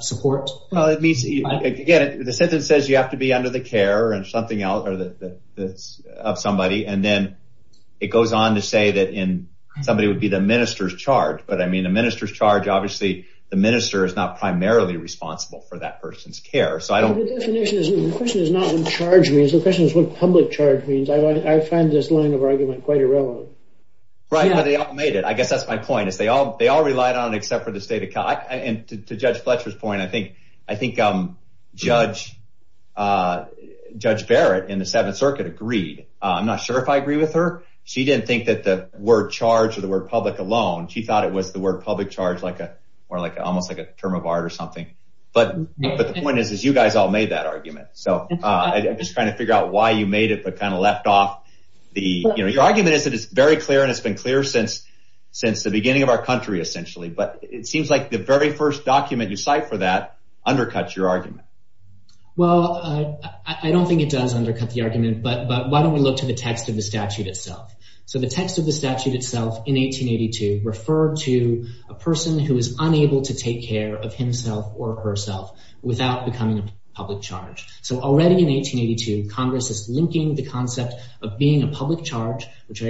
support, Again, the sentence says you have to be under the care and something else or the, the, of somebody. And then it goes on to say that in somebody would be the minister's charge. But I mean, the minister's charge, obviously the minister is not primarily responsible for that person's care. So I don't. The definition is the question is not in charge means the question is what public charge means. I find this line of argument quite irrelevant. Right. How they all made it. I guess that's my point. If they all, they all relied on except for the state of God and to judge Fletcher's point. I think, I think judge judge Barrett and the seventh circuit agreed. I'm not sure if I agree with her. She didn't think that the word charge or the word public alone, she thought it was the word public charge, like a, or like almost like a term of art or something. But the point is, is you guys all made that argument. So I just kind of figure out why you made it, but kind of left off. The argument is that it's very clear and it's been clear since, since the beginning of our country, essentially, but it seems like the very first document you cite for that undercuts your argument. Well, I don't think it does undercut the argument, but why don't we look to the text of the statute itself? So the text of the statute itself in 1882 referred to a person who is unable to take care of himself or herself without becoming public charge. So already in 1882, Congress is linking the concept of being a public charge, statute.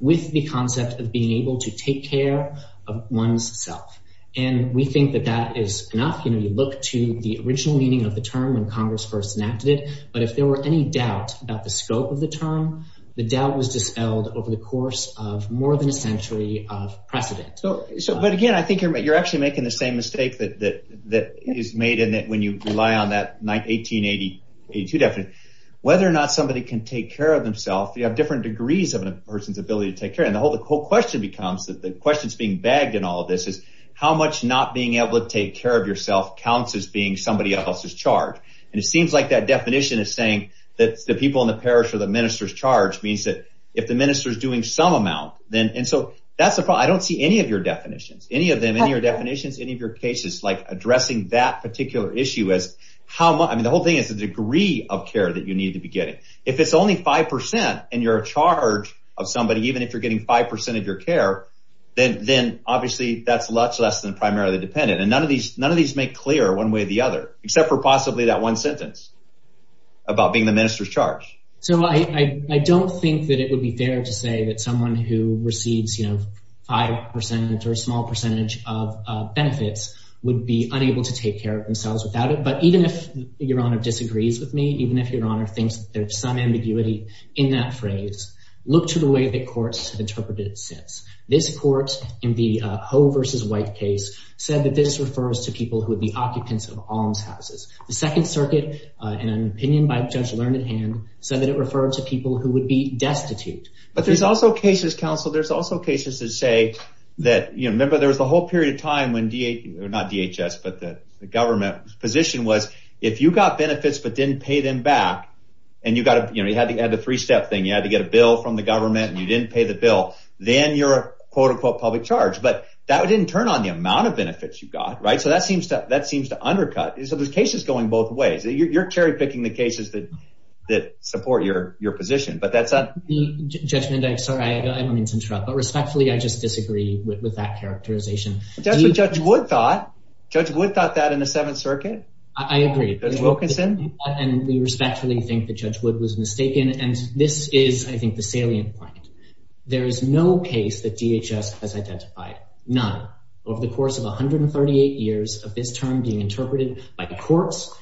With the concept of being able to take care of one's self. And we think that that is not going to be looked to the original meaning of the term when Congress first enacted it. But if there were any doubts about the scope of the term, the doubt was dispelled over the course of more than a century of precedent. So, but again, I think you're, you're actually making the same mistake that, that is made in that when you rely on that night, 1882 document, whether or not somebody can take care of themselves, you have different degrees of a person's ability to take care. And the whole, the whole question becomes that the questions being bagged in all of this is how much not being able to take care of yourself counts as being somebody else's charge. And it seems like that definition is saying that the people in the parish or the minister's charge means that if the minister is doing some amount, then, and so that's the problem. I don't see any of your definitions, any of them in your definitions, any of your cases, like addressing that particular issue is how much, I mean, the whole thing is the degree of care that you need to be getting. If it's only 5% and you're a charge of somebody, even if you're getting 5% of your care, then obviously that's less, less than primarily dependent. And none of these, none of these make clear one way or the other, except for possibly that one sentence about being the minister's charge. So I, I don't think that it would be fair to say that someone who receives, you know, 5% or a small percentage of benefits would be unable to take care of themselves without it. But even if your honor disagrees with me, even if your honor thinks that there's some ambiguity in that phrase, look to the way that courts have interpreted it since. This court in the Ho versus White case said that this refers to people who would be occupants of all houses. The second circuit, an opinion by Judge Learnedham said that it referred to people who would be destitute. But there's also cases counsel, there's also cases that say that, you know, remember there was a whole period of time when D or not DHS, but the government position was if you got benefits, but didn't pay them back. And you've got to, you know, you had the, you had the three-step thing. You had to get a bill from the government and you didn't pay the bill. Then you're a quote, unquote public charge, but that didn't turn on the amount of benefits you got. Right. So that seems to, that seems to undercut. So there's cases going both ways. You're, you're cherry picking the cases that, that support your, your position, but that's a. Sorry, I don't want to interrupt, but respectfully, I just disagree with that characterization. That's what judge Wood thought. Judge Wood thought that in the seventh circuit. I agree. And we respectfully think that judge Wood was mistaken. And this is, I think the salient point. There is no case that DHS has identified. None over the course of 138 years of this term being interpreted by the courts,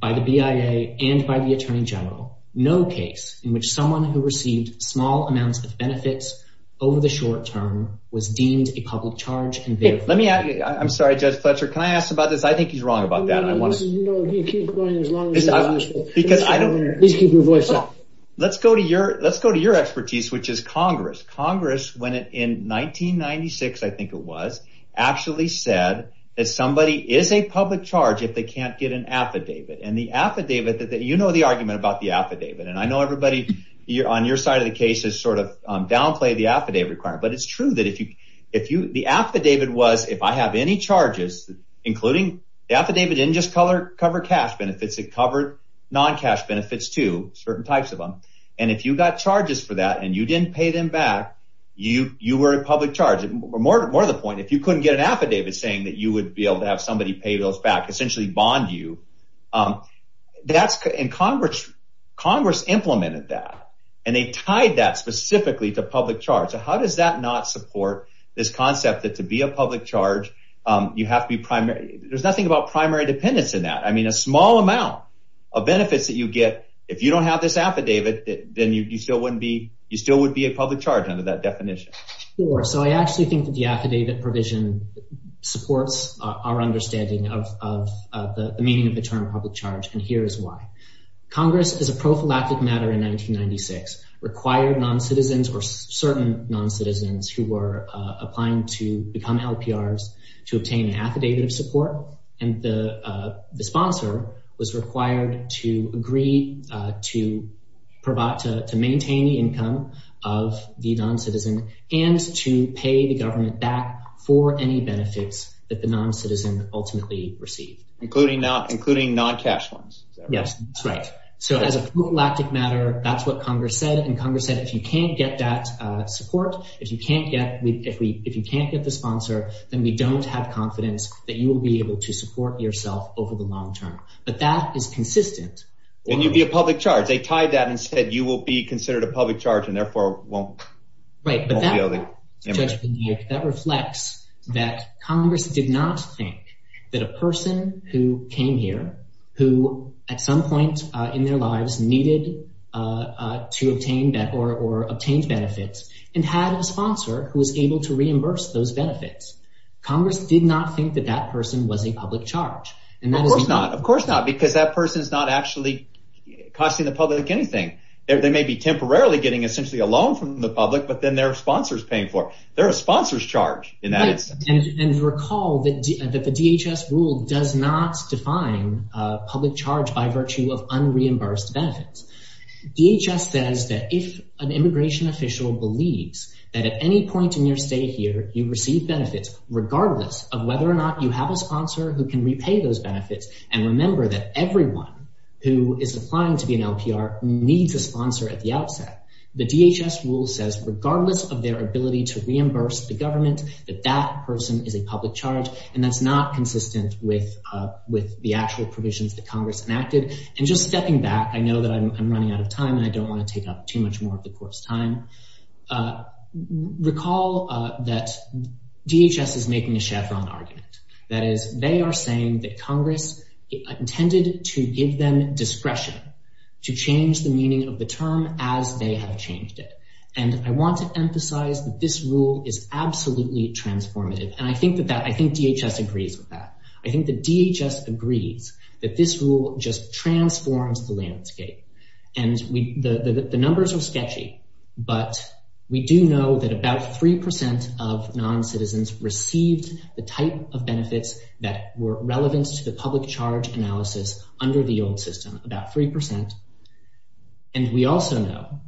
by the BIA and by the attorney general, no case in which someone who received small amounts of benefits over the short term was deemed a public charge. And let me ask you, I'm sorry, judge Fletcher, can I ask about this? I think he's wrong about that. You know, he keeps going as long as. Let's go to your, let's go to your expertise, which is Congress. Congress went in 1996. I think it was actually said that somebody is a public charge. If they can't get an affidavit and the affidavit that you know, the argument about the affidavit. And I know everybody on your side of the case is sort of downplay the affidavit requirement, but it's true that if you, if you, the affidavit was, if I have any charges, including the affidavit in just color, cover cash benefits, it covered non-cash benefits to certain types of them. And if you got charges for that and you didn't pay them back, you were a public charge. More to the point, if you couldn't get an affidavit saying that you would be able to have somebody pay those back, essentially bond you. And Congress, Congress implemented that. And they tied that specifically to public charge. So how does that not support this concept that to be a public charge, you have to be primary. There's nothing about primary dependence in that. I mean, a small amount of benefits that you get. If you don't have this affidavit, then you still wouldn't be, you still would be a public charge under that definition. So I actually think that the affidavit provision supports our understanding of the meaning of the term public charge. And here is why Congress is a prophylactic matter in 1996 required non-citizens or certain non-citizens who were applying to become LPRs. To obtain an affidavit of support. And the sponsor was required to agree to provide, to maintain the income of the non-citizen and to pay the government back for any benefits that the non-citizen ultimately received. Including non-cash funds. Yes, that's right. So as a prophylactic matter, that's what Congress said. And Congress said, if you can't get that support, if you can't get the sponsor, then we don't have confidence that you will be able to support yourself over the long term. But that is consistent. And you'd be a public charge. They tied that and said you will be considered a public charge and therefore won't. Right. But that reflects that Congress did not think that a person who came here, who at some point in their lives needed to obtain or obtained benefits, and had a sponsor who was able to reimburse those benefits. Congress did not think that that person was a public charge. Of course not. Of course not. Because that person is not actually costing the public anything. They may be temporarily getting essentially a loan from the public, but then there are sponsors paying for it. They're a sponsor's charge in that instance. And recall that the DHS rule does not define public charge by virtue of unreimbursed benefits. DHS says that if an immigration official believes that at any point in your stay here, you receive benefits regardless of whether or not you have a sponsor who can repay those benefits, and remember that everyone who is applying to be an LPR needs a sponsor at the outset, the DHS rule says regardless of their ability to reimburse the government, that that person is a public charge. And that's not consistent with the actual provisions that Congress enacted. And just stepping back, I know that I'm running out of time, and I don't want to take up too much more of the court's time. Recall that DHS is making a chef-on argument. That is, they are saying that Congress intended to give them discretion to change the meaning of the term as they have changed it. And I want to emphasize that this rule is absolutely transformative. And I think that DHS agrees with that. I think that DHS agrees that this rule just transforms the landscape. And the numbers are sketchy, but we do know that about 3% of noncitizens received the type of benefits that were relevant to the public charge analysis under the old system, about 3%. And we also know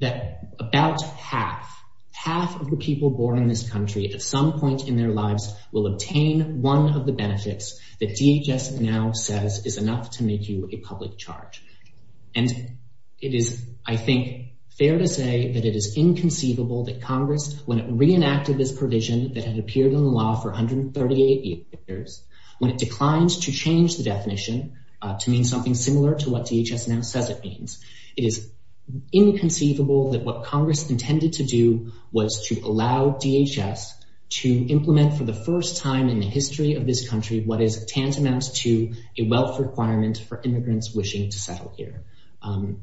that about half, half of the people born in this country at some point in their lives will obtain one of the benefits that DHS now says is enough to make you a public charge. And it is, I think, fair to say that it is inconceivable that Congress, when it reenacted this provision that had appeared in the law for 138 years, when it declined to change the definition to mean something similar to what DHS now says it means, it is inconceivable that what Congress intended to do was to allow DHS to implement, for the first time in the history of this country, what is tantamount to a wealth requirement for immigrants wishing to settle here.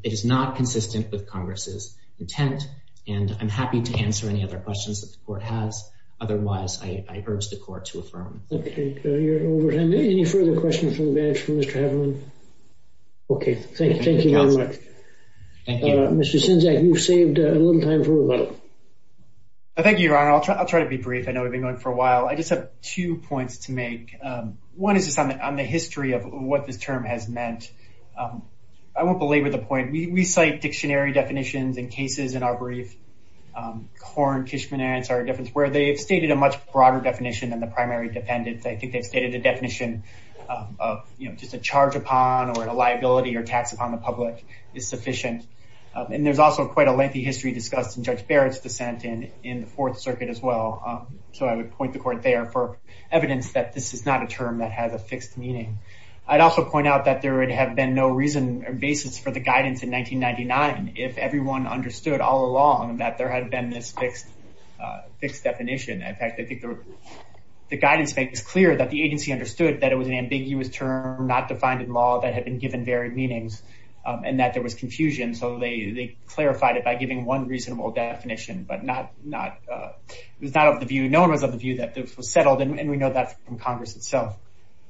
It is not consistent with Congress's intent, and I'm happy to answer any other questions that the Court has. Otherwise, I urge the Court to affirm. Okay, you're over time. Any further questions from the bench for Mr. Hedlund? Okay, thank you very much. Thank you. Mr. Sinzak, you've saved a little time for rebuttal. Thank you, Your Honor. I'll try to be brief. I know we've been going for a while. I just have two points to make. One is just on the history of what the term has meant. I won't belabor the point. We cite dictionary definitions and cases in our brief. Horn, Fishman, and Ansar, where they stated a much broader definition than the primary defendant. They stated the definition of just a charge upon or a liability or tax upon the public is sufficient. And there's also quite a lengthy history discussed in Judge Barrett's dissent in the Fourth Circuit as well. So I would point the Court there for evidence that this is not a term that has a fixed meaning. I'd also point out that there would have been no reason or basis for the guidance in 1999 if everyone understood all along that there had been this fixed definition. In fact, I think the guidance makes it clear that the agency understood that it was an ambiguous term, not defined in law, that had been given varied meanings, and that there was confusion. So they clarified it by giving one reasonable definition, but no one was of the view that this was settled, and we know that from Congress itself.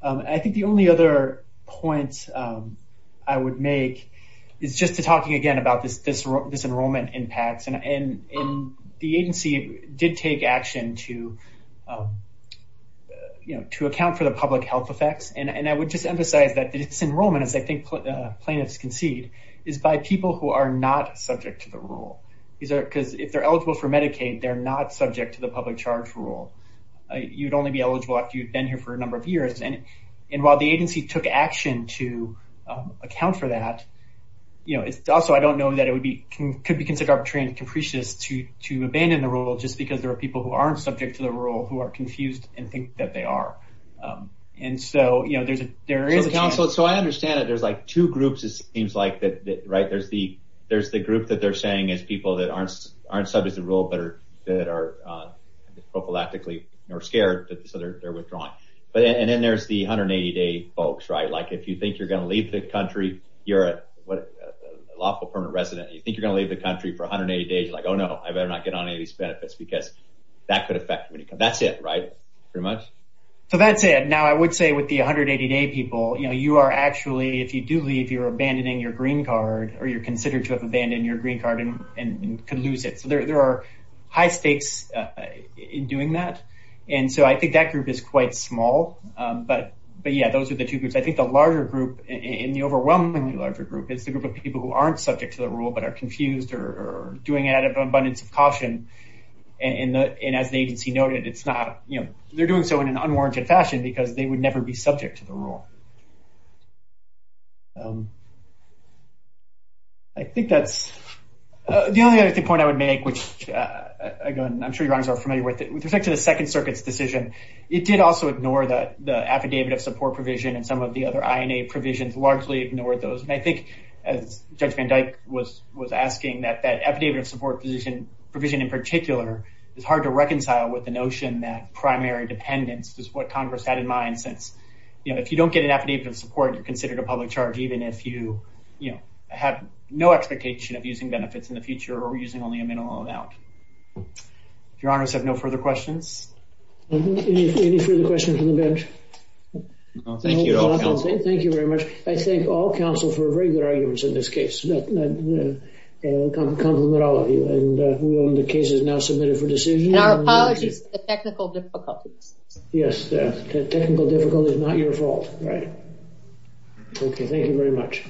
I think the only other point I would make is just to talk again about this enrollment impact. And the agency did take action to account for the public health effects, and I would just emphasize that this enrollment, as I think plaintiffs can see, is by people who are not subject to the rule. Because if they're eligible for Medicaid, they're not subject to the public charge rule. You'd only be eligible if you'd been here for a number of years. And while the agency took action to account for that, also I don't know that it could be considered arbitrary and capricious to abandon the rule just because there are people who aren't subject to the rule who are confused and think that they are. So I understand that there's like two groups, it seems like, right? There's the group that they're saying is people that aren't subject to the rule, but are prophylactically more scared, so they're withdrawing. And then there's the 180-day folks, right? Like if you think you're going to leave the country, you're a lawful permanent resident, and you think you're going to leave the country for 180 days, like, oh, no, I better not get on any of these benefits because that could affect me. That's it, right, pretty much? So that's it. Now, I would say with the 180-day people, you are actually, if you do leave, you're abandoning your green card or you're considered to have abandoned your green card and can lose it. So there are high stakes in doing that. And so I think that group is quite small. But, yeah, those are the two groups. I think the larger group, the overwhelmingly larger group, is the group of people who aren't subject to the rule but are confused or doing it out of an abundance of caution. And as the agency noted, it's not, you know, they're doing so in an unwarranted fashion because they would never be subject to the rule. I think that's the only other point I would make, which, again, I'm sure you guys are familiar with it. With respect to the Second Circuit's decision, it did also ignore the affidavit of support provision and some of the other INA provisions largely ignored those. And I think Judge Van Dyke was asking that that affidavit of support provision in particular is hard to reconcile with the notion that primary dependence is what Congress had in mind since, you know, if you don't get an affidavit of support, you're considered a public charge even if you, you know, have no expectation of using benefits in the future or using only a minimal amount. If your honors have no further questions. Any further questions from the judge? Thank you very much. I thank all counsel for very good arguments in this case. I compliment all of you. And the case is now submitted for decision. Our apologies for the technical difficulty. Yes, the technical difficulty is not your fault, right? Okay, thank you very much.